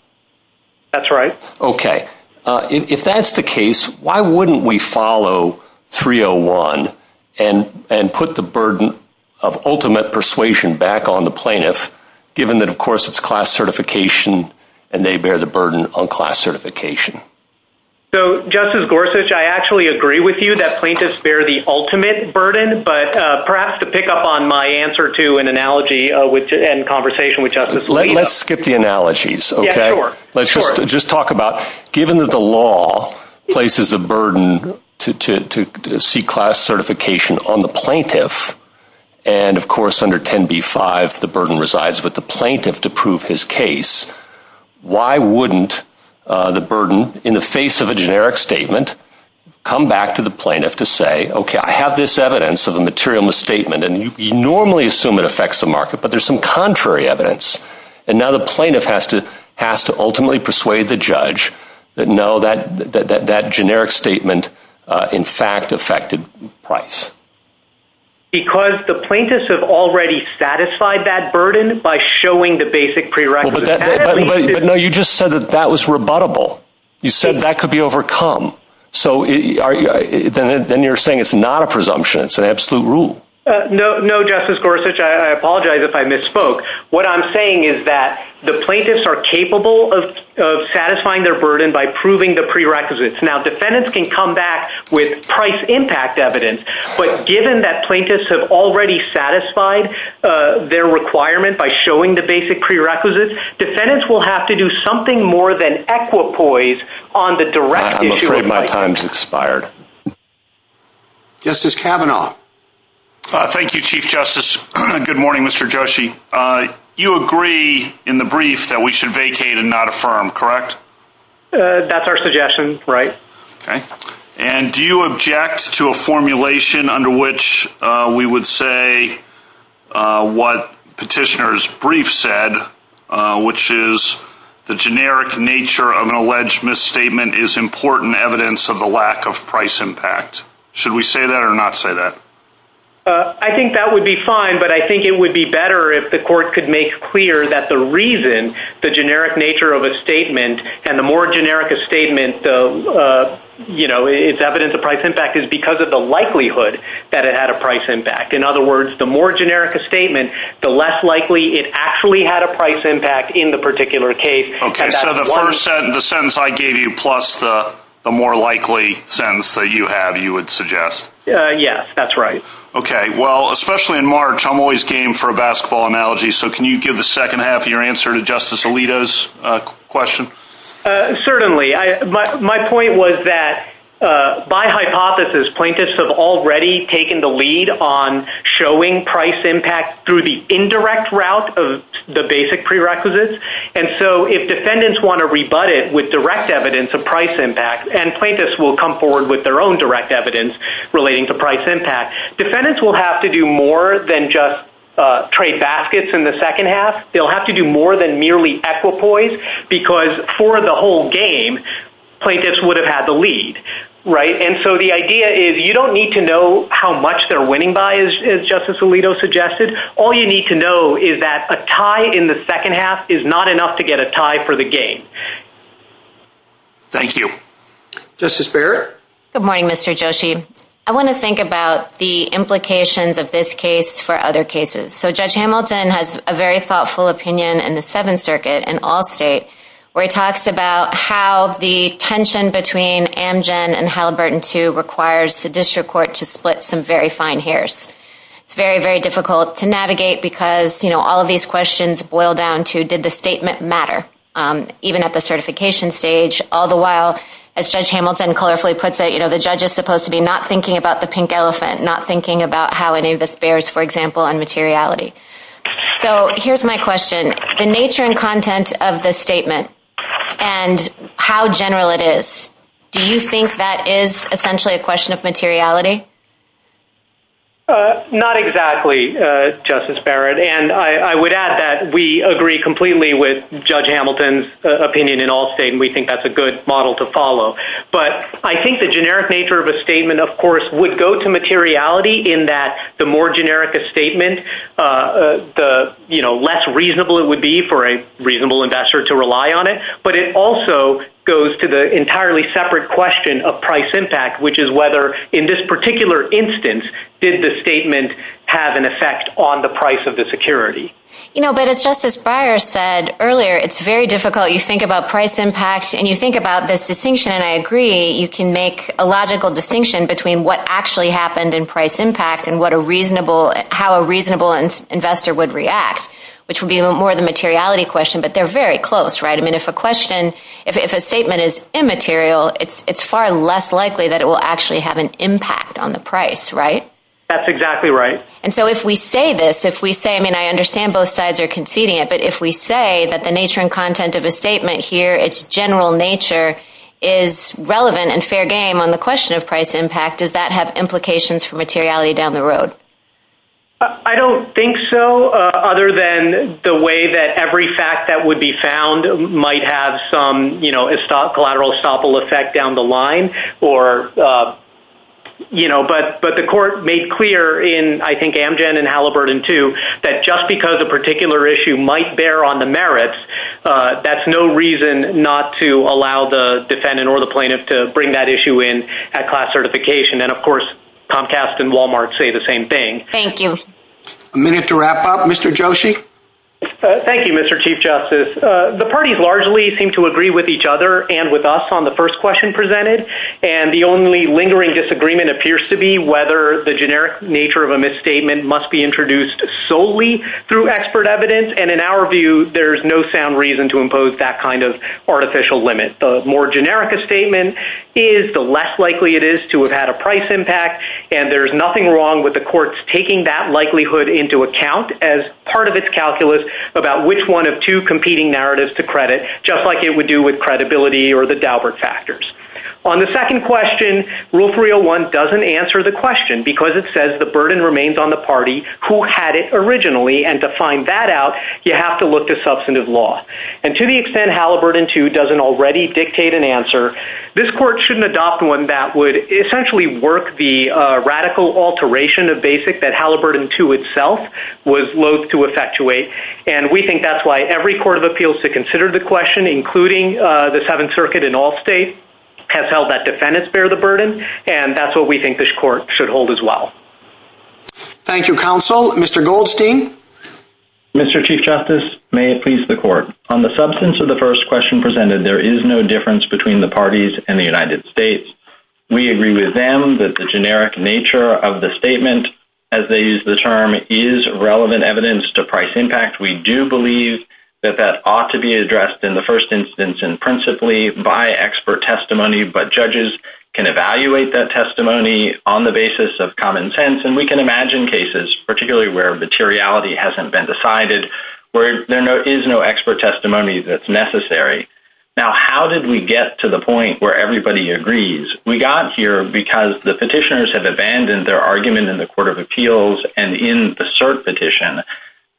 That's right. Okay. If that's the case, why wouldn't we follow 301 and put the burden of ultimate persuasion back on the plaintiff, given that, of course, it's class certification, and they bear the burden on class certification? So, Justice Gorsuch, I actually agree with you that plaintiffs bear the burden. Let's skip the analogies, okay? Sure. Let's just talk about, given that the law places a burden to see class certification on the plaintiff, and, of course, under 10b-5, the burden resides with the plaintiff to prove his case, why wouldn't the burden, in the face of a generic statement, come back to the plaintiff to say, okay, I have this evidence of a material misstatement, and you normally assume it to be contrary evidence, and now the plaintiff has to ultimately persuade the judge that, no, that generic statement, in fact, affected price. Because the plaintiffs have already satisfied that burden by showing the basic prerequisites. But, no, you just said that that was rebuttable. You said that could be overcome. So then you're saying it's not a presumption. It's an absolute rule. No, Justice Gorsuch, I apologize if I misspoke. What I'm saying is that the plaintiffs are capable of satisfying their burden by proving the prerequisites. Now, defendants can come back with price impact evidence, but given that plaintiffs have already satisfied their requirement by showing the basic prerequisites, defendants will have to do something more than equipoise on I'm afraid my time's expired. Justice Kavanaugh. Thank you, Chief Justice. Good morning, Mr. Joshi. You agree in the brief that we should vacate and not affirm, correct? That's our suggestion. Right. Okay. And do you object to a formulation under which we would say what petitioner's brief said, which is the generic nature of an alleged misstatement is important evidence of the lack of price impact? Should we say that or not say that? I think that would be fine, but I think it would be better if the court could make clear that the reason the generic nature of a statement and the more generic a statement is evidence of price impact is because of the likelihood that it had a price impact. In other words, the more generic a statement, the less likely it actually had a price impact in the particular case. Okay. So the first sentence, the sentence I gave you, plus the more likely sentence that you have, you would suggest. Yes, that's right. Okay. Well, especially in March, I'm always game for a basketball analogy. So can you give the second half of your answer to Justice Alito's question? Certainly. My point was that by hypothesis, plaintiffs have already taken the lead on showing price impact through the indirect route of the basic prerequisites. And so if defendants want to rebut it with direct evidence of price impact, and plaintiffs will come forward with their own direct evidence relating to price impact, defendants will have to do more than just trade baskets in the second half. They'll have to do more than merely equipoise because for the whole game, plaintiffs would have had the lead, right? And so the idea is you don't need to know how much they're winning by, as Justice Alito suggested. All you need to know is that a tie in the second half is not enough to get a tie for the game. Thank you. Justice Barrett? Good morning, Mr. Joshi. I want to think about the implications of this case for other cases. So Judge Hamilton has a very thoughtful opinion in the Seventh Circuit in all states where he talks about how the tension between Amgen and Haliburton II requires the district court to split some very fine hairs. It's very, very difficult to navigate because, you know, all of these questions boil down to did the statement matter, even at the certification stage. All the while, as Judge Hamilton colorfully puts it, you know, the judge is supposed to be not thinking about the pink elephant, not thinking about how any of this bears, for example, on materiality. So here's my question. The nature and content of this statement and how general it is, do you think that is essentially a question of materiality? Not exactly, Justice Barrett. And I would add that we agree completely with Judge Hamilton's opinion in all states, and we think that's a good model to follow. But I think the generic nature of a statement, of course, would go to materiality in that the more generic a statement, the less reasonable it would be for a reasonable investor to rely on it. But it also goes to the entirely separate question of price impact, which is whether in this particular instance did the statement have an effect on the price of the security. You know, but as Justice Breyer said earlier, it's very difficult. You think about price impact and you think about this distinction, and I agree you can make a logical distinction between what actually happened in price impact and how a reasonable investor would react, which would be more the materiality question, but they're very close, right? I mean, if a statement is immaterial, it's far less likely that it will actually have an impact on the price, right? That's exactly right. And so if we say this, if we say, I mean, I understand both sides are conceding it, but if we say that the nature and content of a statement here, its general nature is relevant and fair game on the question of price impact, does that have implications for materiality down the road? I don't think so, other than the way that every fact that would be found might have some collateral estoppel effect down the line, but the court made clear in, I think, Amgen and Halliburton too, that just because a particular issue might bear on the merits, that's no reason not to allow the defendant or the plaintiff to bring that issue in at class certification, and of course Comcast and Walmart say the same thing. Thank you. A minute to wrap up. Mr. Joshi? Thank you, Mr. Chief Justice. The parties largely seem to agree with each other and with us on the first question presented, and the only lingering disagreement appears to be whether the generic nature of a misstatement must be introduced solely through expert evidence, and in our view, there's no sound reason to impose that kind of artificial limit. The more generic a statement is, the less likely it is to have had a price impact, and there's nothing wrong with the courts taking that likelihood into account as part of its calculus about which one of two competing narratives to credit, just like it would do with credibility or the Daubert factors. On the second question, Rule 301 doesn't answer the question because it says the burden remains on the party who had it originally, and to find that out, you have to look to substantive law, and to the extent Halliburton 2 doesn't already dictate an answer, this court shouldn't adopt one that would essentially work the radical alteration of basics that Halliburton 2 itself was loath to effectuate, and we think that's why every court of appeals to consider the question, including the Seventh Circuit in all states, has held that defendants bear the burden, and that's what we think this court should hold as well. Thank you, Counsel. Mr. Goldstein? Mr. Chief Justice, may it please the Court. On the substance of the first question presented, there is no difference between the parties and the United States. We agree with them that the generic nature of the statement, as they use the term, is relevant evidence to price impact. We do believe that that ought to be addressed in the first instance and principally by expert testimony, but judges can evaluate that testimony on the basis of common sense, and we can imagine cases, particularly where materiality hasn't been decided, where there is no expert testimony that's necessary. Now, how did we get to the point where everybody agrees? We got here because the petitioners have abandoned their argument in the court of appeals and in the cert petition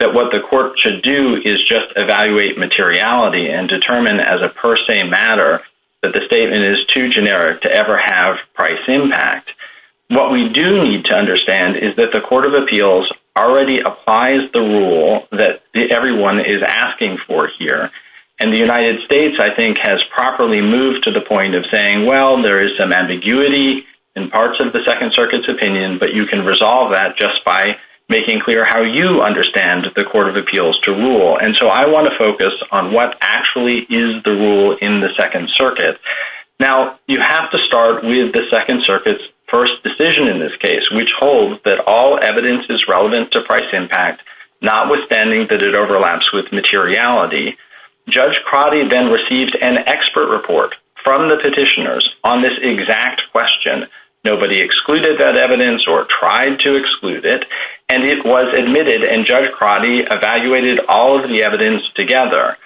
that what the court should do is just evaluate materiality and determine as a per se matter that the statement is too generic to ever have price impact. What we do need to understand is that the court of appeals already applies the rule that everyone is asking for here, and the United States, I think, has properly moved to the point of saying, well, there is some ambiguity in parts of the Second Circuit's opinion, but you can resolve that just by making clear how you understand the court of appeals to rule. And so I want to focus on what actually is the rule in the Second Circuit. Now, you have to start with the Second Circuit's first decision in this case, which holds that all evidence is relevant to price impact, notwithstanding that it overlaps with materiality. Judge Crotty then receives an expert report from the petitioners on this exact question. Nobody excluded that evidence or tried to exclude it, and it was admitted, and Judge Crotty evaluated all of the evidence together.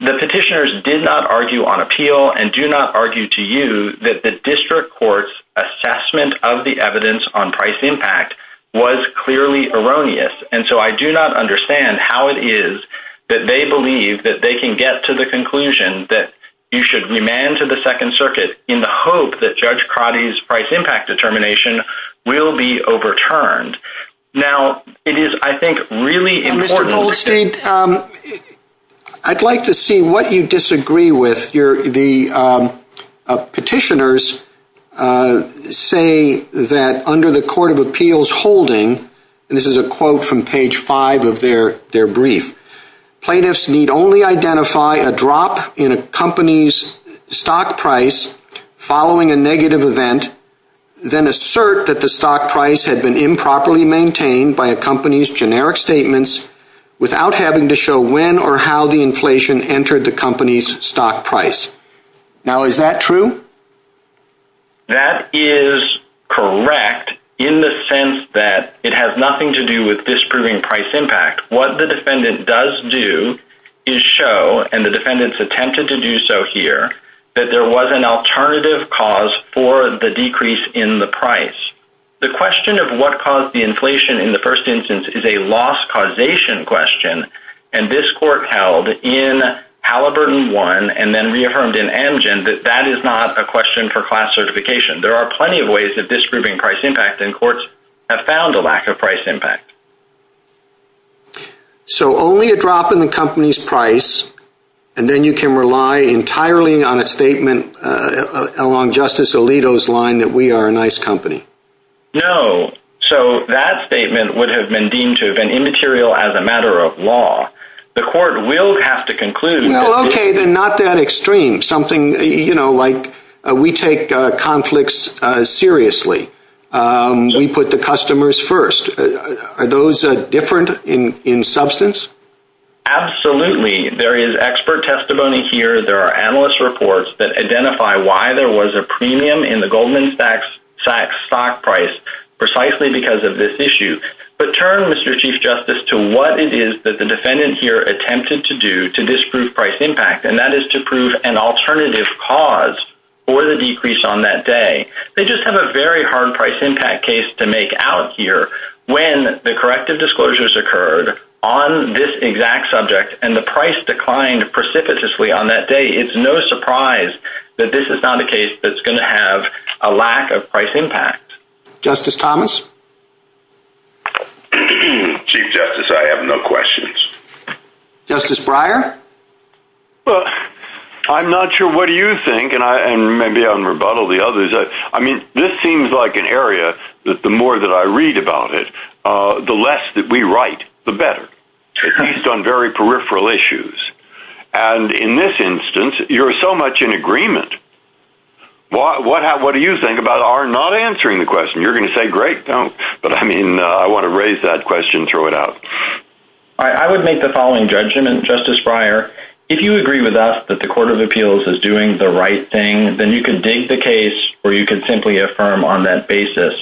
The petitioners did not argue on appeal and do not argue to you that the district court's assessment of the evidence on price impact was clearly erroneous, and so I do not understand how it is that they believe that they can get to the conclusion that you should remand to the Second Circuit in the hope that Judge Crotty's price impact determination will be overturned. Now, it is, I think, really important. Mr. Goldstein, I'd like to see what you disagree with. The petitioners say that under the court of appeals holding, and this is a quote from page five of their brief, plaintiffs need only identify a drop in a company's stock price following a negative event, then assert that the stock price had been improperly maintained by a company's generic statements without having to show when or how the inflation entered the company's stock price. Now, is that true? That is correct in the sense that it has nothing to do with disproving price impact. What the defendant does do is show, and the defendants attempted to do so here, that there was an alternative cause for the decrease in the price. The question of what caused the inflation in the first instance is a loss causation question, and this court held in Halliburton 1 and then reaffirmed in Amgen that that is not a question for class certification. There are plenty of ways of disproving price impact, and courts have found a lack of price impact. So only a drop in the company's price, and then you can rely entirely on a statement along Justice Alito's line that we are a nice company. No. as a matter of law. The court will have to conclude. Okay, they're not that extreme. Something, you know, like we take conflicts seriously. We put the customers first. Are those different in substance? Absolutely. There is expert testimony here. There are analyst reports that identify why there was a premium in the Goldman Sachs stock price precisely because of this issue. But turn, Mr. Chief Justice, to what it is that the defendant here attempted to do to disprove price impact, and that is to prove an alternative cause for the decrease on that day. They just have a very hard price impact case to make out here. When the corrective disclosures occurred on this exact subject and the price declined precipitously on that day, it's no surprise that this is not a case that's going to have a lack of price impact. Justice Thomas? Chief Justice, I have no questions. Justice Breyer? Well, I'm not sure what you think, and maybe I'll rebuttal the others. I mean, this seems like an area that the more that I read about it, the less that we write, the better, based on very peripheral issues. And in this instance, you're so much in agreement. What do you think about our not answering the question? You're going to say, great, don't. But, I mean, I want to raise that question and throw it out. I would make the following judgment, Justice Breyer. If you agree with us that the Court of Appeals is doing the right thing, then you can dig the case or you can simply affirm on that basis.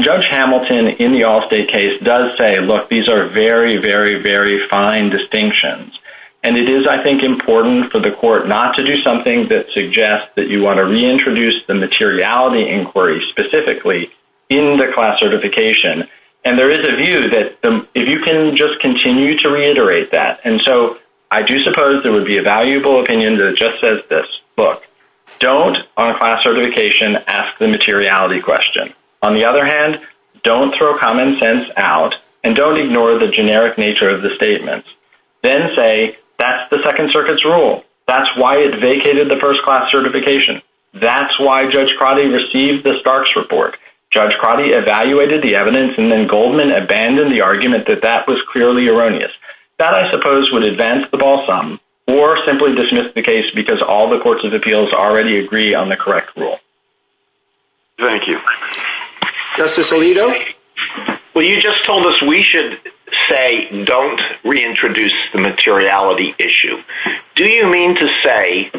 Judge Hamilton in the Allstate case does say, look, these are very, very, very fine distinctions. And it is, I think, important for the court not to do something that suggests that you want to reintroduce the materiality inquiry specifically in the class certification. And there is a view that if you can just continue to reiterate that. And so I do suppose there would be a valuable opinion that just says this. Look, don't on class certification ask the materiality question. On the other hand, don't throw common sense out and don't ignore the generic nature of the statements. Then say, that's the Second Circuit's rule. That's why it vacated the first class certification. That's why Judge Crotty received the Starks report. Judge Crotty evaluated the evidence and then Goldman abandoned the argument that that was clearly erroneous. That, I suppose, would advance the ball some or simply dismiss the case because all the Courts of Appeals already agree on the correct rule. Thank you. Justice Alito? Well, you just told us we should say don't reintroduce the materiality issue. Do you mean to say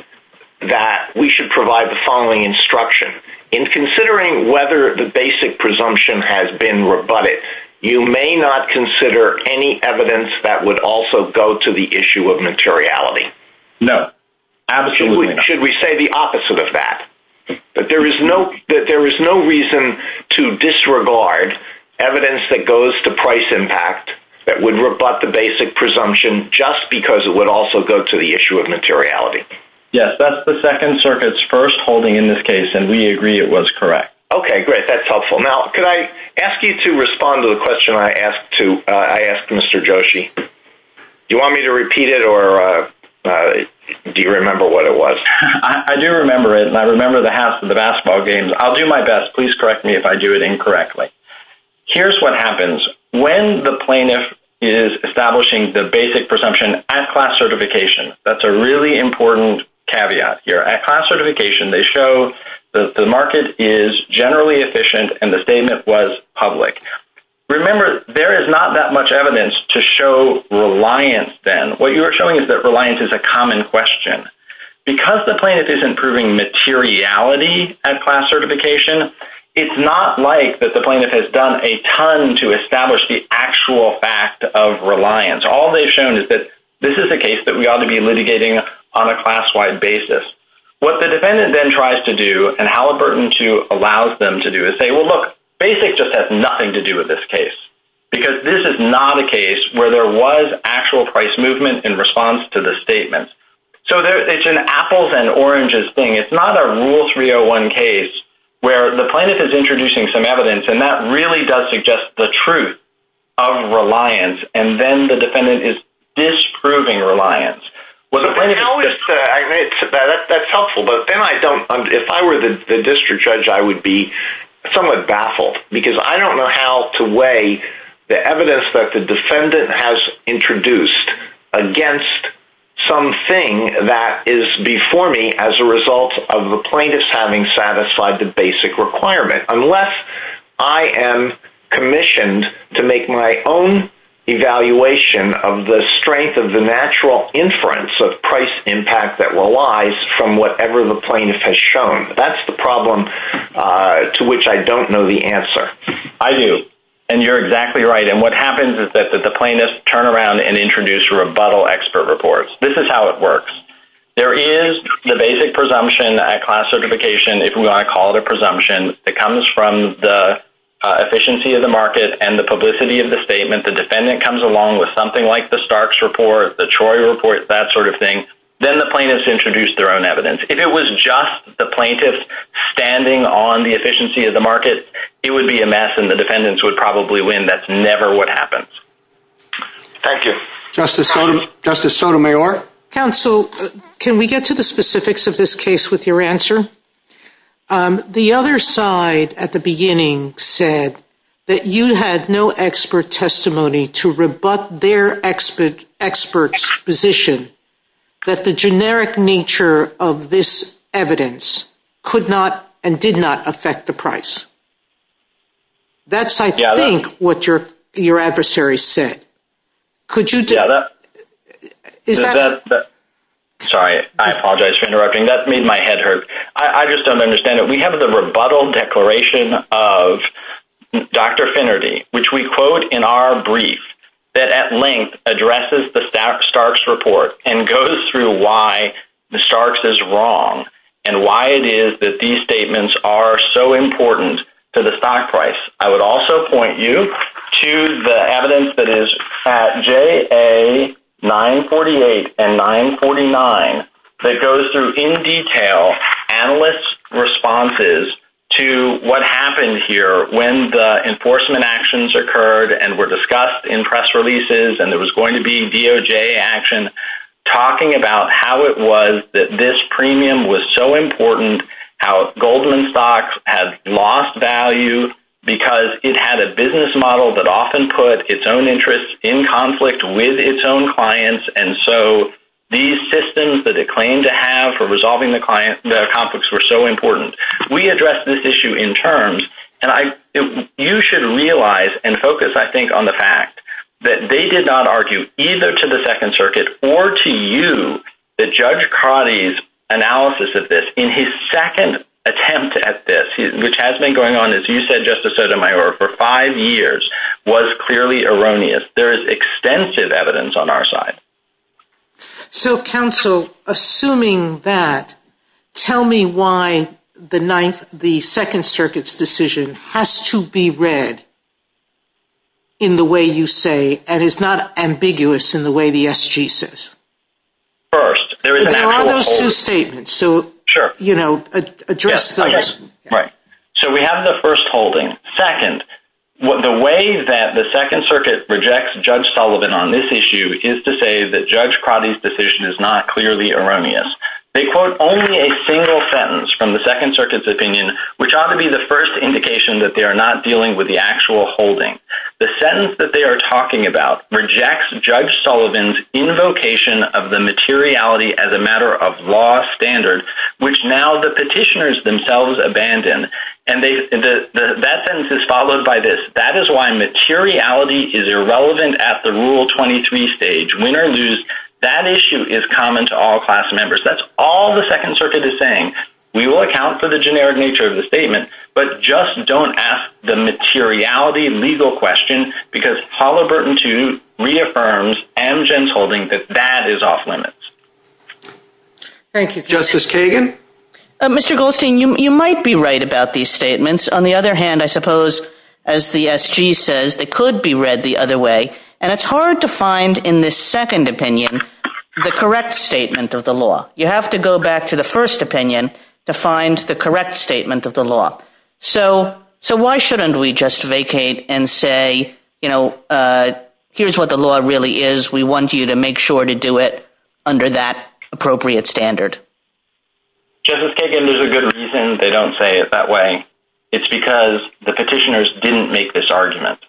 that we should provide the following instruction? In considering whether the basic presumption has been rebutted, you may not consider any evidence that would also go to the issue of materiality? No. Absolutely not. Should we say the opposite of that? That there is no reason to disregard evidence that goes to price impact that would rebut the basic presumption just because it would also go to the issue of materiality? Yes. That's the Second Circuit's first holding in this case, and we agree it was correct. Okay. Great. That's helpful. Now, could I ask you to respond to the question I asked Mr. Joshi? Do you want me to repeat it or do you remember what it was? I do remember it, and I remember the half of the basketball game. I'll do my best. Please correct me if I do it incorrectly. Here's what happens. When the plaintiff is establishing the basic presumption at class certification, that's a really important caveat here. At class certification, they show that the market is generally efficient and the statement was public. Remember, there is not that much evidence to show reliance then. What you are showing is that reliance is a common question. Because the plaintiff is improving materiality at class certification, it's not like that the plaintiff has done a ton to establish the actual fact of reliance. All they've shown is that this is a case that we ought to be litigating on a class-wide basis. What the defendant then tries to do, and Halliburton, too, allows them to do, is say, well, look, basic just has nothing to do with this case, because this is not a case where there was actual price movement in response to the statement. So it's an apples and oranges thing. It's not a rule 301 case where the plaintiff is introducing some evidence and that really does suggest the truth of reliance, and then the defendant is disproving reliance. That's helpful, but if I were the district judge, I would be somewhat baffled, because I don't know how to weigh the evidence that the defendant has introduced against something that is before me as a result of the plaintiff's having satisfied the basic requirement, unless I am commissioned to make my own evaluation of the strength of the natural inference of price impact that relies from whatever the plaintiff has shown. That's the problem to which I don't know the answer. I do, and you're exactly right, and what happens is that the plaintiff turns around and introduces rebuttal expert reports. This is how it works. There is the basic presumption at class certification, if you want to call it a presumption. It comes from the efficiency of the market and the publicity of the statement. The defendant comes along with something like the Starks report, the Troy report, that sort of thing. Then the plaintiffs introduce their own evidence. If it was just the plaintiffs standing on the efficiency of the market, it would be a mess and the defendants would probably win. That's never what happens. Thank you. Justice Sotomayor? Counsel, can we get to the specifics of this case with your answer? The other side at the beginning said that you had no expert testimony to rebut their expert's position that the generic nature of this evidence could not and did not affect the price. That's, I think, what your adversary said. Sorry, I apologize for interrupting. That made my head hurt. I just don't understand it. We have the rebuttal declaration of Dr. Finnerty, which we quote in our brief, that at length addresses the Starks report and goes through why the Starks is wrong and why it is that these statements are so important to the stock price. I would also point you to the evidence that is at JA 948 and 949 that goes through in detail analyst's responses to what happened here when the enforcement actions occurred and were discussed in press releases and there was going to be DOJ action talking about how it was that this premium was so important, how Goldman Stocks had lost value because it had a business model that often put its own interests in conflict with its own clients and so these systems that it claimed to have for resolving the conflicts were so important. We addressed this issue in terms, and you should realize and focus, I think, on the fact that they did not argue either to the Second Circuit or to you that Judge Coddy's analysis of this in his second attempt at this, which has been going on, as you said, Justice Sotomayor, for five years, was clearly erroneous. There is extensive evidence on our side. So, counsel, assuming that, tell me why the Second Circuit's decision has to be read in the way you say and is not ambiguous in the way the SG says. There are those two statements, so address those. So we have the first holding. Second, the way that the Second Circuit rejects Judge Sullivan on this issue is to say that Judge Coddy's decision is not clearly erroneous. They quote only a single sentence from the Second Circuit's opinion, which ought to be the first indication that they are not dealing with the actual holding. The sentence that they are talking about rejects Judge Sullivan's invocation of the materiality as a matter of law standard, which now the petitioners themselves abandon, and that sentence is followed by this. That is why materiality is irrelevant at the Rule 23 stage. Win or lose, that issue is common to all class members. That's all the Second Circuit is saying. We will account for the generic nature of the statement, but just don't ask the materiality legal question because Halliburton 2 reaffirms Amgen's holding that that is off limits. Thank you. Justice Kagan? Mr. Goldstein, you might be right about these statements. On the other hand, I suppose, as the SG says, it could be read the other way, and it's hard to find in the second opinion the correct statement of the law. You have to go back to the first opinion to find the correct statement of the law. So why shouldn't we just vacate and say, you know, here's what the law really is. We want you to make sure to do it under that appropriate standard? Justice Kagan, there's a good reason they don't say it that way. It's because the petitioners didn't make this argument.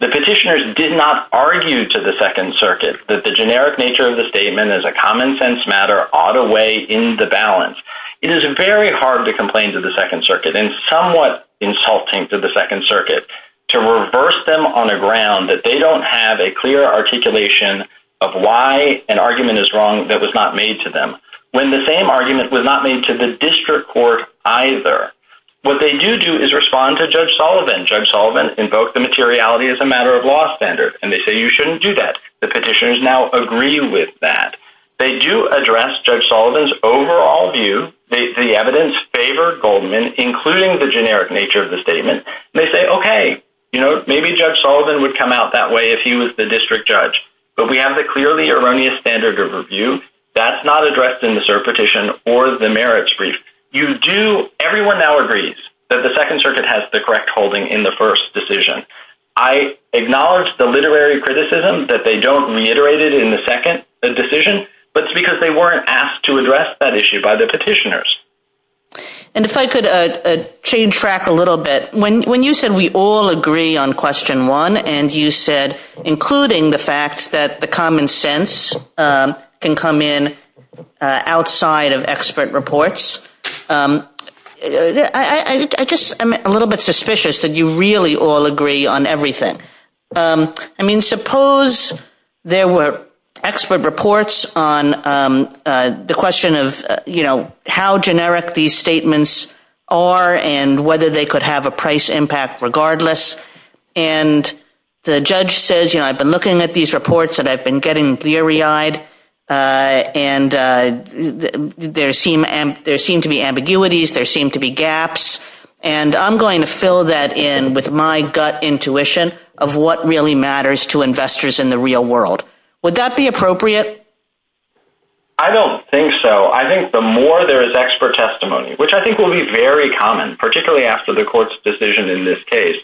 The petitioners did not argue to the Second Circuit that the generic nature of the statement as a common-sense matter ought to weigh in the balance. It is very hard to complain to the Second Circuit, and somewhat insulting to the Second Circuit, to reverse them on a ground that they don't have a clear articulation of why an argument is wrong that was not made to them, when the same argument was not made to the district court either. What they do do is respond to Judge Sullivan. Judge Sullivan invoked the materiality as a matter of law standard, and they say you shouldn't do that. The petitioners now agree with that. They do address Judge Sullivan's overall view. The evidence favored Goldman, including the generic nature of the statement. They say, okay, you know, maybe Judge Sullivan would come out that way if he was the district judge. But we have the clearly erroneous standard of review. That's not addressed in the cert petition or the merits brief. Everyone now agrees that the Second Circuit has the correct holding in the first decision. I acknowledge the literary criticism that they don't reiterate it in the second decision, but it's because they weren't asked to address that issue by the petitioners. And if I could change track a little bit. When you said we all agree on question one, and you said, including the fact that the common sense can come in outside of expert reports, I just am a little bit suspicious that you really all agree on everything. I mean, suppose there were expert reports on the question of, you know, how generic these statements are and whether they could have a price impact regardless. And the judge says, you know, I've been looking at these reports, and I've been getting eerie eyed, and there seem to be ambiguities. There seem to be gaps. And I'm going to fill that in with my gut intuition of what really matters to investors in the real world. Would that be appropriate? I don't think so. I think the more there is expert testimony, which I think will be very common, particularly after the court's decision in this case,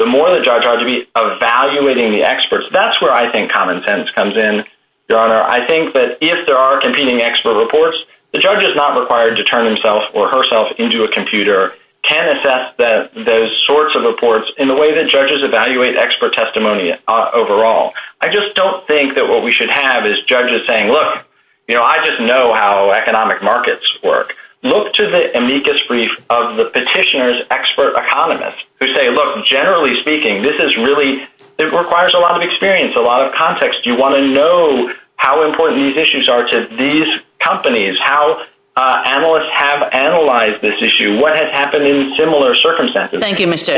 the more the judge ought to be evaluating the experts. That's where I think common sense comes in, Your Honor. I think that if there are competing expert reports, the judge is not required to turn himself or herself into a computer, can assess those sorts of reports in the way that judges evaluate expert testimony overall. I just don't think that what we should have is judges saying, look, you know, I just know how economic markets work. Look to the amicus brief of the petitioner's expert economist who say, look, generally speaking, this is really, it requires a lot of experience, a lot of context. You want to know how important these issues are to these companies, how analysts have analyzed this issue, what had happened in similar circumstances. Thank you, Mr.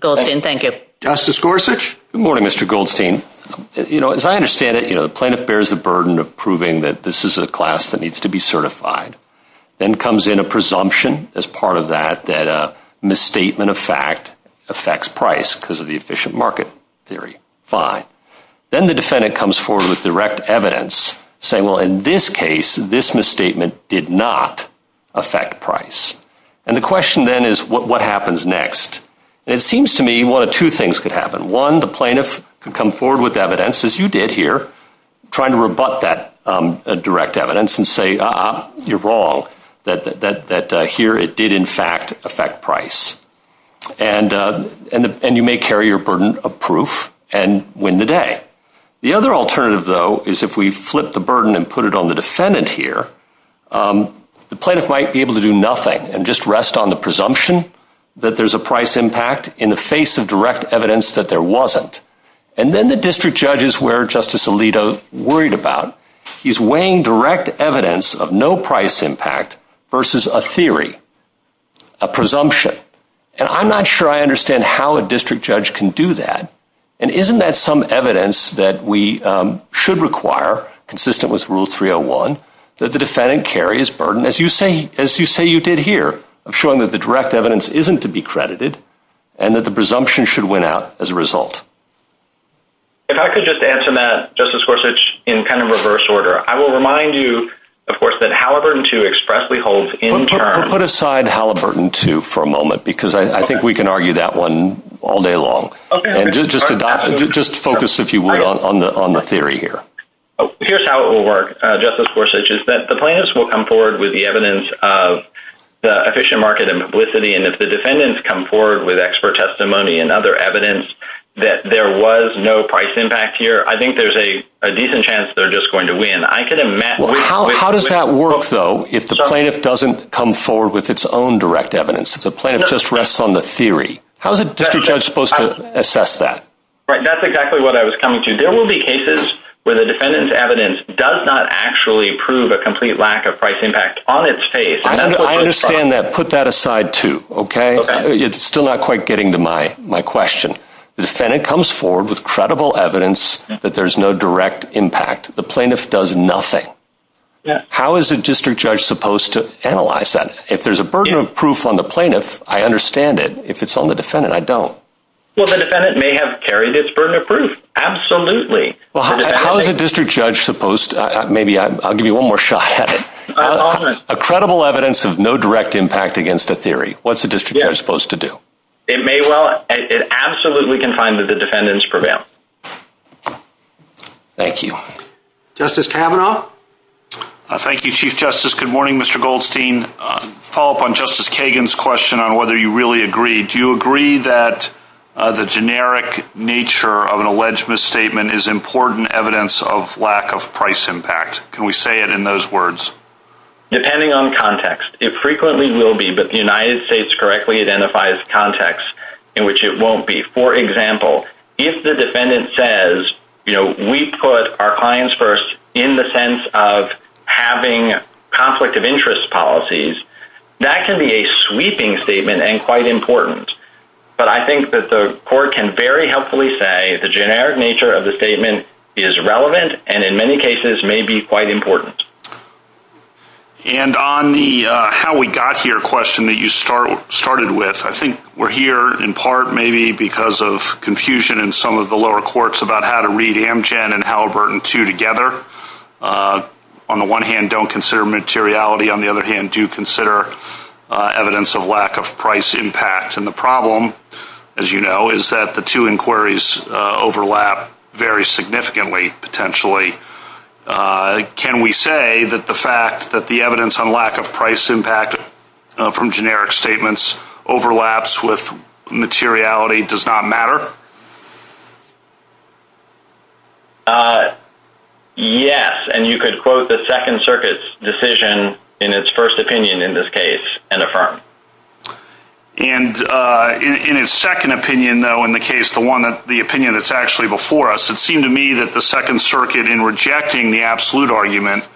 Goldstein. Thank you. Justice Gorsuch. Good morning, Mr. Goldstein. You know, as I understand it, you know, the plaintiff bears the burden of proving that this is a class that needs to be certified. Then comes in a presumption as part of that, that a misstatement of fact affects price because of the efficient market theory. Fine. Then the defendant comes forward with direct evidence saying, well, in this case, this misstatement did not affect price. And the question then is what happens next? It seems to me one of two things could happen. One, the plaintiff could come forward with evidence, as you did here, trying to rebut that direct evidence and say, uh-uh, you're wrong, that here it did in fact affect price. And you may carry your burden of proof and win the day. The other alternative, though, is if we flip the burden and put it on the defendant here, the plaintiff might be able to do nothing and just rest on the presumption that there's a price impact in the face of direct evidence that there wasn't. And then the district judge is where Justice Alito worried about. He's weighing direct evidence of no price impact versus a theory, a presumption. And I'm not sure I understand how a district judge can do that. And isn't that some evidence that we should require, consistent with Rule 301, that the defendant carry his burden, as you say you did here, of showing that the direct evidence isn't to be credited and that the presumption should win out as a result? If I could just answer that, Justice Gorsuch, in kind of reverse order. I will remind you, of course, that Halliburton II expressly holds in charge. Put aside Halliburton II for a moment because I think we can argue that one all day long. And just focus, if you will, on the theory here. Here's how it will work, Justice Gorsuch, is that the plaintiffs will come forward with the evidence of the efficient market and publicity. And if the defendants come forward with expert testimony and other evidence that there was no price impact here, I think there's a decent chance they're just going to win. How does that work, though, if the plaintiff doesn't come forward with its own direct evidence? The plaintiff just rests on the theory. How is a district judge supposed to assess that? That's exactly what I was coming to. There will be cases where the defendant's evidence does not actually prove a complete lack of price impact on its case. I understand that. Put that aside, too, okay? It's still not quite getting to my question. The defendant comes forward with credible evidence that there's no direct impact. The plaintiff does nothing. How is a district judge supposed to analyze that? If there's a burden of proof on the plaintiff, I understand it. If it's on the defendant, I don't. Well, the defendant may have carried its burden of proof. Absolutely. How is a district judge supposed to – maybe I'll give you one more shot at it. A credible evidence of no direct impact against a theory. What's a district judge supposed to do? It may well – it absolutely can find that the defendant is prevailing. Thank you. Justice Kavanaugh? Thank you, Chief Justice. Good morning, Mr. Goldstein. To follow up on Justice Kagan's question on whether you really agree, do you agree that the generic nature of an alleged misstatement is important evidence of lack of price impact? Can we say it in those words? Depending on context. It frequently will be, but the United States correctly identifies context in which it won't be. For example, if the defendant says, you know, we put our clients first in the sense of having conflict of interest policies, that can be a sweeping statement and quite important. But I think that the court can very helpfully say the generic nature of the statement is relevant and in many cases may be quite important. And on the how we got here question that you started with, I think we're here in part maybe because of confusion in some of the lower courts about how to read Amgen and Halliburton 2 together. On the one hand, don't consider materiality. On the other hand, do consider evidence of lack of price impact. And the problem, as you know, is that the two inquiries overlap very significantly potentially. Can we say that the fact that the evidence on lack of price impact from generic statements overlaps with materiality does not matter? Yes. And you could quote the Second Circuit's decision in its first opinion in this case and affirm. And in its second opinion, though, in the case, the opinion that's actually before us, it seemed to me that the Second Circuit in rejecting the absolute argument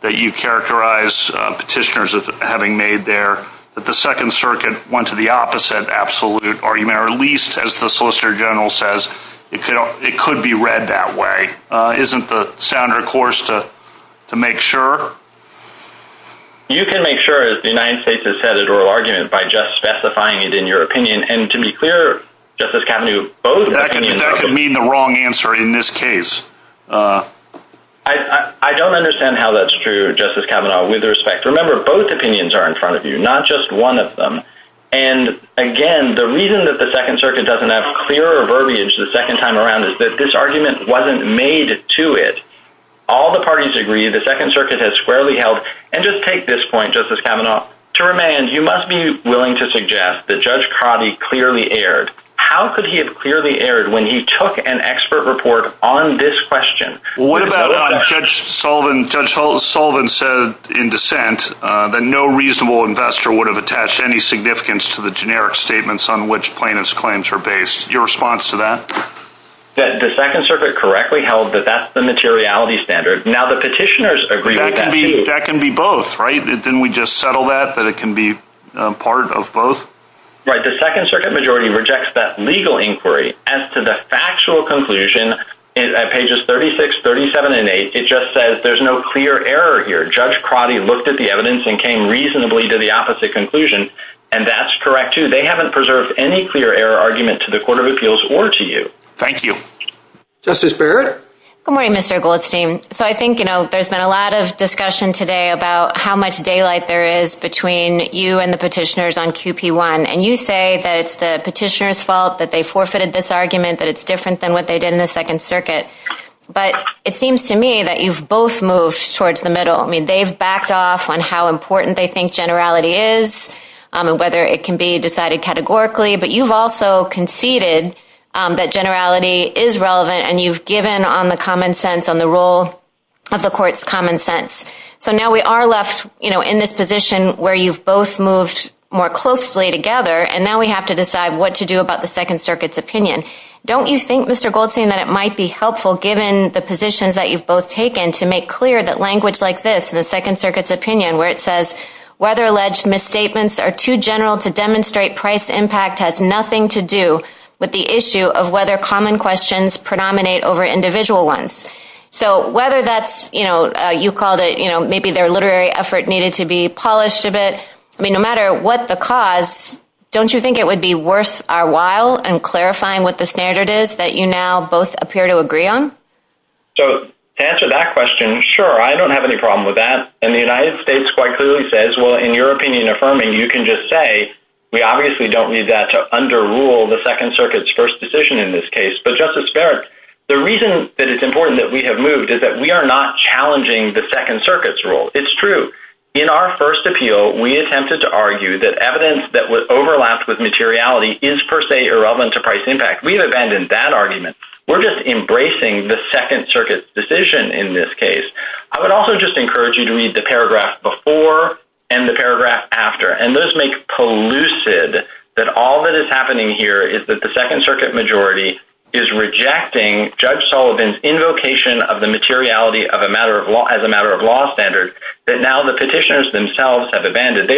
that you characterized, petitioners having made there, that the Second Circuit went to the opposite absolute argument or at least, as the Solicitor General says, it could be read that way. Isn't the sounder course to make sure? You can make sure, as the United States has said, it's a real argument by just specifying it in your opinion. And to be clear, Justice Kavanaugh, both opinions are true. That could mean the wrong answer in this case. I don't understand how that's true, Justice Kavanaugh, with respect. Remember, both opinions are in front of you, not just one of them. And, again, the reason that the Second Circuit doesn't have clearer verbiage the second time around is that this argument wasn't made to it. All the parties agree. The Second Circuit has squarely held. And just take this point, Justice Kavanaugh. To remand, you must be willing to suggest that Judge Coddy clearly erred. How could he have clearly erred when he took an expert report on this question? What about when Judge Sullivan said in dissent that no reasonable investor would have attached any significance to the generic statements on which plaintiff's claims are based? Your response to that? The Second Circuit correctly held that that's the materiality standard. Now, the petitioners agree with that, too. That can be both, right? Didn't we just settle that, that it can be part of both? Right. The Second Circuit majority rejects that legal inquiry as to the factual conclusion at pages 36, 37, and 8. It just says there's no clear error here. Judge Coddy looked at the evidence and came reasonably to the opposite conclusion. And that's correct, too. They haven't preserved any clear error argument to the Court of Appeals or to you. Thank you. Justice Barrett? Good morning, Mr. Goldstein. So I think, you know, there's been a lot of discussion today about how much daylight there is between you and the petitioners on 2P1. And you say that it's the petitioners' fault, that they forfeited this argument, that it's different than what they did in the Second Circuit. But it seems to me that you've both moved towards the middle. I mean, they've backed off on how important they think generality is and whether it can be decided categorically. But you've also conceded that generality is relevant, and you've given on the common sense, on the role of the Court's common sense. So now we are left, you know, in this position where you've both moved more closely together, and now we have to decide what to do about the Second Circuit's opinion. Don't you think, Mr. Goldstein, that it might be helpful, given the positions that you've both taken, to make clear that language like this in the Second Circuit's opinion, where it says, whether alleged misstatements are too general to demonstrate price impact has nothing to do with the issue of whether common questions predominate over individual ones. So whether that's, you know, you called it, you know, maybe their literary effort needed to be polished a bit. I mean, no matter what the cause, don't you think it would be worth our while in clarifying what the standard is that you now both appear to agree on? So, to answer that question, sure, I don't have any problem with that. And the United States quite clearly says, well, in your opinion affirming, you can just say, we obviously don't need that to underrule the Second Circuit's first decision in this case. But Justice Farrick, the reason that it's important that we have moved is that we are not challenging the Second Circuit's rule. It's true. In our first appeal, we attempted to argue that evidence that would overlap with materiality is per se irrelevant to price impact. We've abandoned that argument. We're just embracing the Second Circuit's decision in this case. I would also just encourage you to read the paragraph before and the paragraph after. And those make it polluted that all that is happening here is that the Second Circuit majority is rejecting Judge Sullivan's invocation of the materiality as a matter of law standard that now the petitioners themselves have abandoned.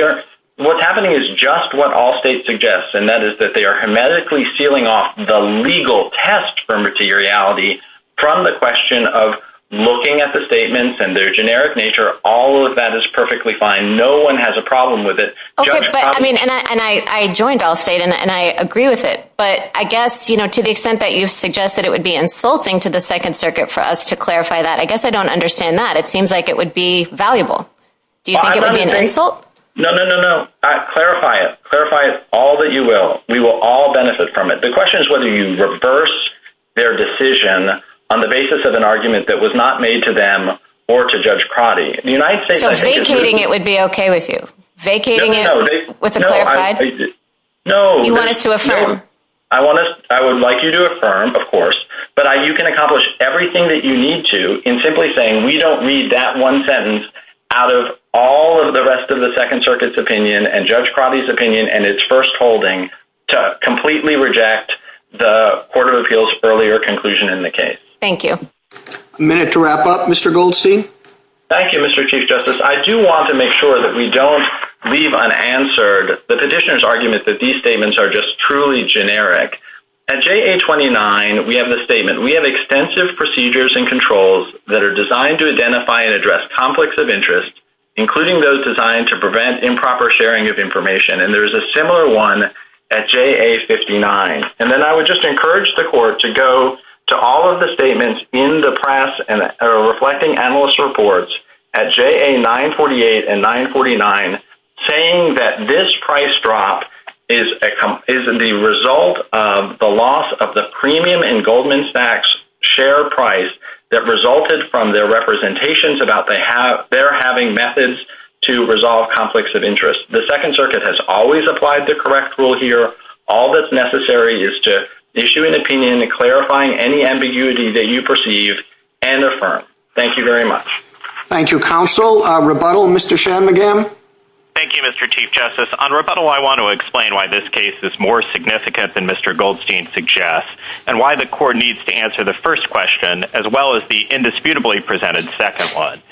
What's happening is just what all states suggest, and that is that they are hermetically sealing off the legal test for materiality from the question of looking at the statements and their generic nature. All of that is perfectly fine. No one has a problem with it. And I joined Allstate, and I agree with it. But I guess to the extent that you suggest that it would be insulting to the Second Circuit for us to clarify that, I guess I don't understand that. It seems like it would be valuable. Do you think it would be an insult? No, no, no, no. Clarify it. Clarify it all that you will. We will all benefit from it. The question is whether you reverse their decision on the basis of an argument that was not made to them or to Judge Crotty. So vacating it would be okay with you? Vacating it with a clarified? No. You want it to affirm? I would like you to affirm, of course. But you can accomplish everything that you need to in simply saying we don't need that one sentence out of all of the rest of the Second Circuit's opinion and Judge Crotty's opinion and its first holding to completely reject the Court of Appeals' earlier conclusion in the case. Thank you. A minute to wrap up. Mr. Goldstein? Thank you, Mr. Chief Justice. I do want to make sure that we don't leave unanswered the petitioner's argument that these statements are just truly generic. At JA-29, we have this statement. We have extensive procedures and controls that are designed to identify and address conflicts of interest, including those designed to prevent improper sharing of information. And there's a similar one at JA-59. And then I would just encourage the Court to go to all of the statements in the press and reflecting analyst reports at JA-948 and 949 saying that this price drop is the result of the loss of the premium in Goldman Sachs' share price that resulted from their representations about their having methods to resolve conflicts of interest. The Second Circuit has always applied the correct rule here. All that's necessary is to issue an opinion in clarifying any ambiguity that you perceive and affirm. Thank you very much. Thank you, Counsel. Rebuttal, Mr. Shanmugam? Thank you, Mr. Chief Justice. On rebuttal, I want to explain why this case is more significant than Mr. Goldstein suggests and why the Court needs to answer the first question as well as the indisputably presented second one.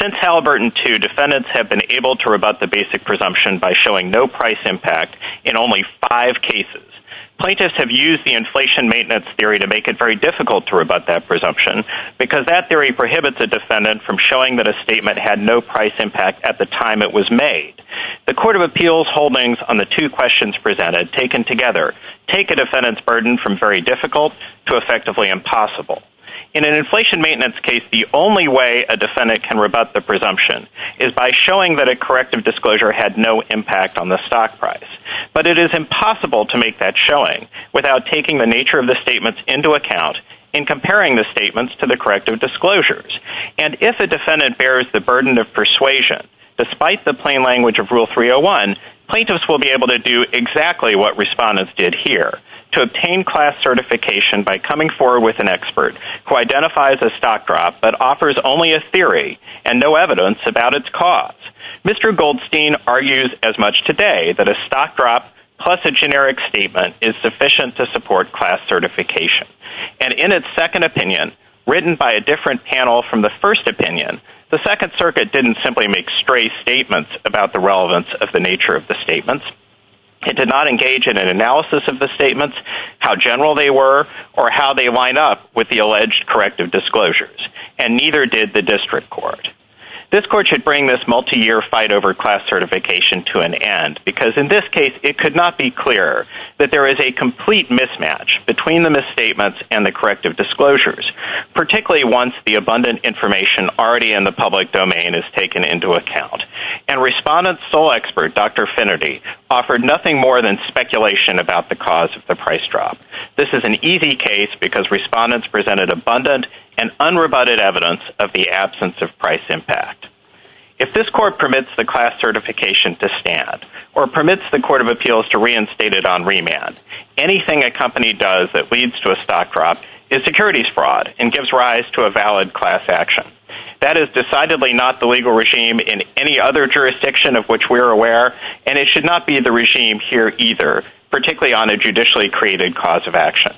Since Halliburton II, defendants have been able to rebut the basic presumption by showing no price impact in only five cases. Plaintiffs have used the inflation maintenance theory to make it very difficult to rebut that presumption because that theory prohibits a defendant from showing that a statement had no price impact at the time it was made. The Court of Appeals holdings on the two questions presented, taken together, take a defendant's burden from very difficult to effectively impossible. In an inflation maintenance case, the only way a defendant can rebut the presumption is by showing that a corrective disclosure had no impact on the stock price. But it is impossible to make that showing without taking the nature of the statements into account and comparing the statements to the corrective disclosures. And if a defendant bears the burden of persuasion, despite the plain language of Rule 301, plaintiffs will be able to do exactly what respondents did here, to obtain class certification by coming forward with an expert who identifies a stock drop but offers only a theory and no evidence about its cause. Mr. Goldstein argues as much today that a stock drop plus a generic statement is sufficient to support class certification. And in its second opinion, written by a different panel from the first opinion, the Second Circuit didn't simply make stray statements about the relevance of the nature of the statements. It did not engage in an analysis of the statements, how general they were, or how they line up with the alleged corrective disclosures. And neither did the district court. This court should bring this multi-year fight over class certification to an end, because in this case, it could not be clearer that there is a complete mismatch between the misstatements and the corrective disclosures, particularly once the abundant information already in the public domain is taken into account. And respondents' sole expert, Dr. Finnerty, offered nothing more than speculation about the cause of the price drop. This is an easy case because respondents presented abundant and unrebutted evidence of the absence of price impact. If this court permits the class certification to stand, or permits the Court of Appeals to reinstate it on remand, anything a company does that leads to a stock drop is securities fraud and gives rise to a valid class action. That is decidedly not the legal regime in any other jurisdiction of which we are aware, and it should not be the regime here either, particularly on a judicially created cause of action.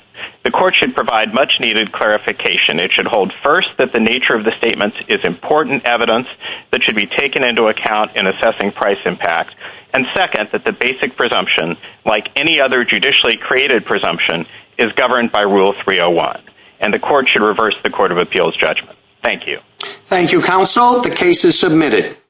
The court should provide much-needed clarification. It should hold, first, that the nature of the statements is important evidence that should be taken into account in assessing price impact, and, second, that the basic presumption, like any other judicially created presumption, is governed by Rule 301. And the court should reverse the Court of Appeals judgment. Thank you. Thank you, counsel. The case is submitted.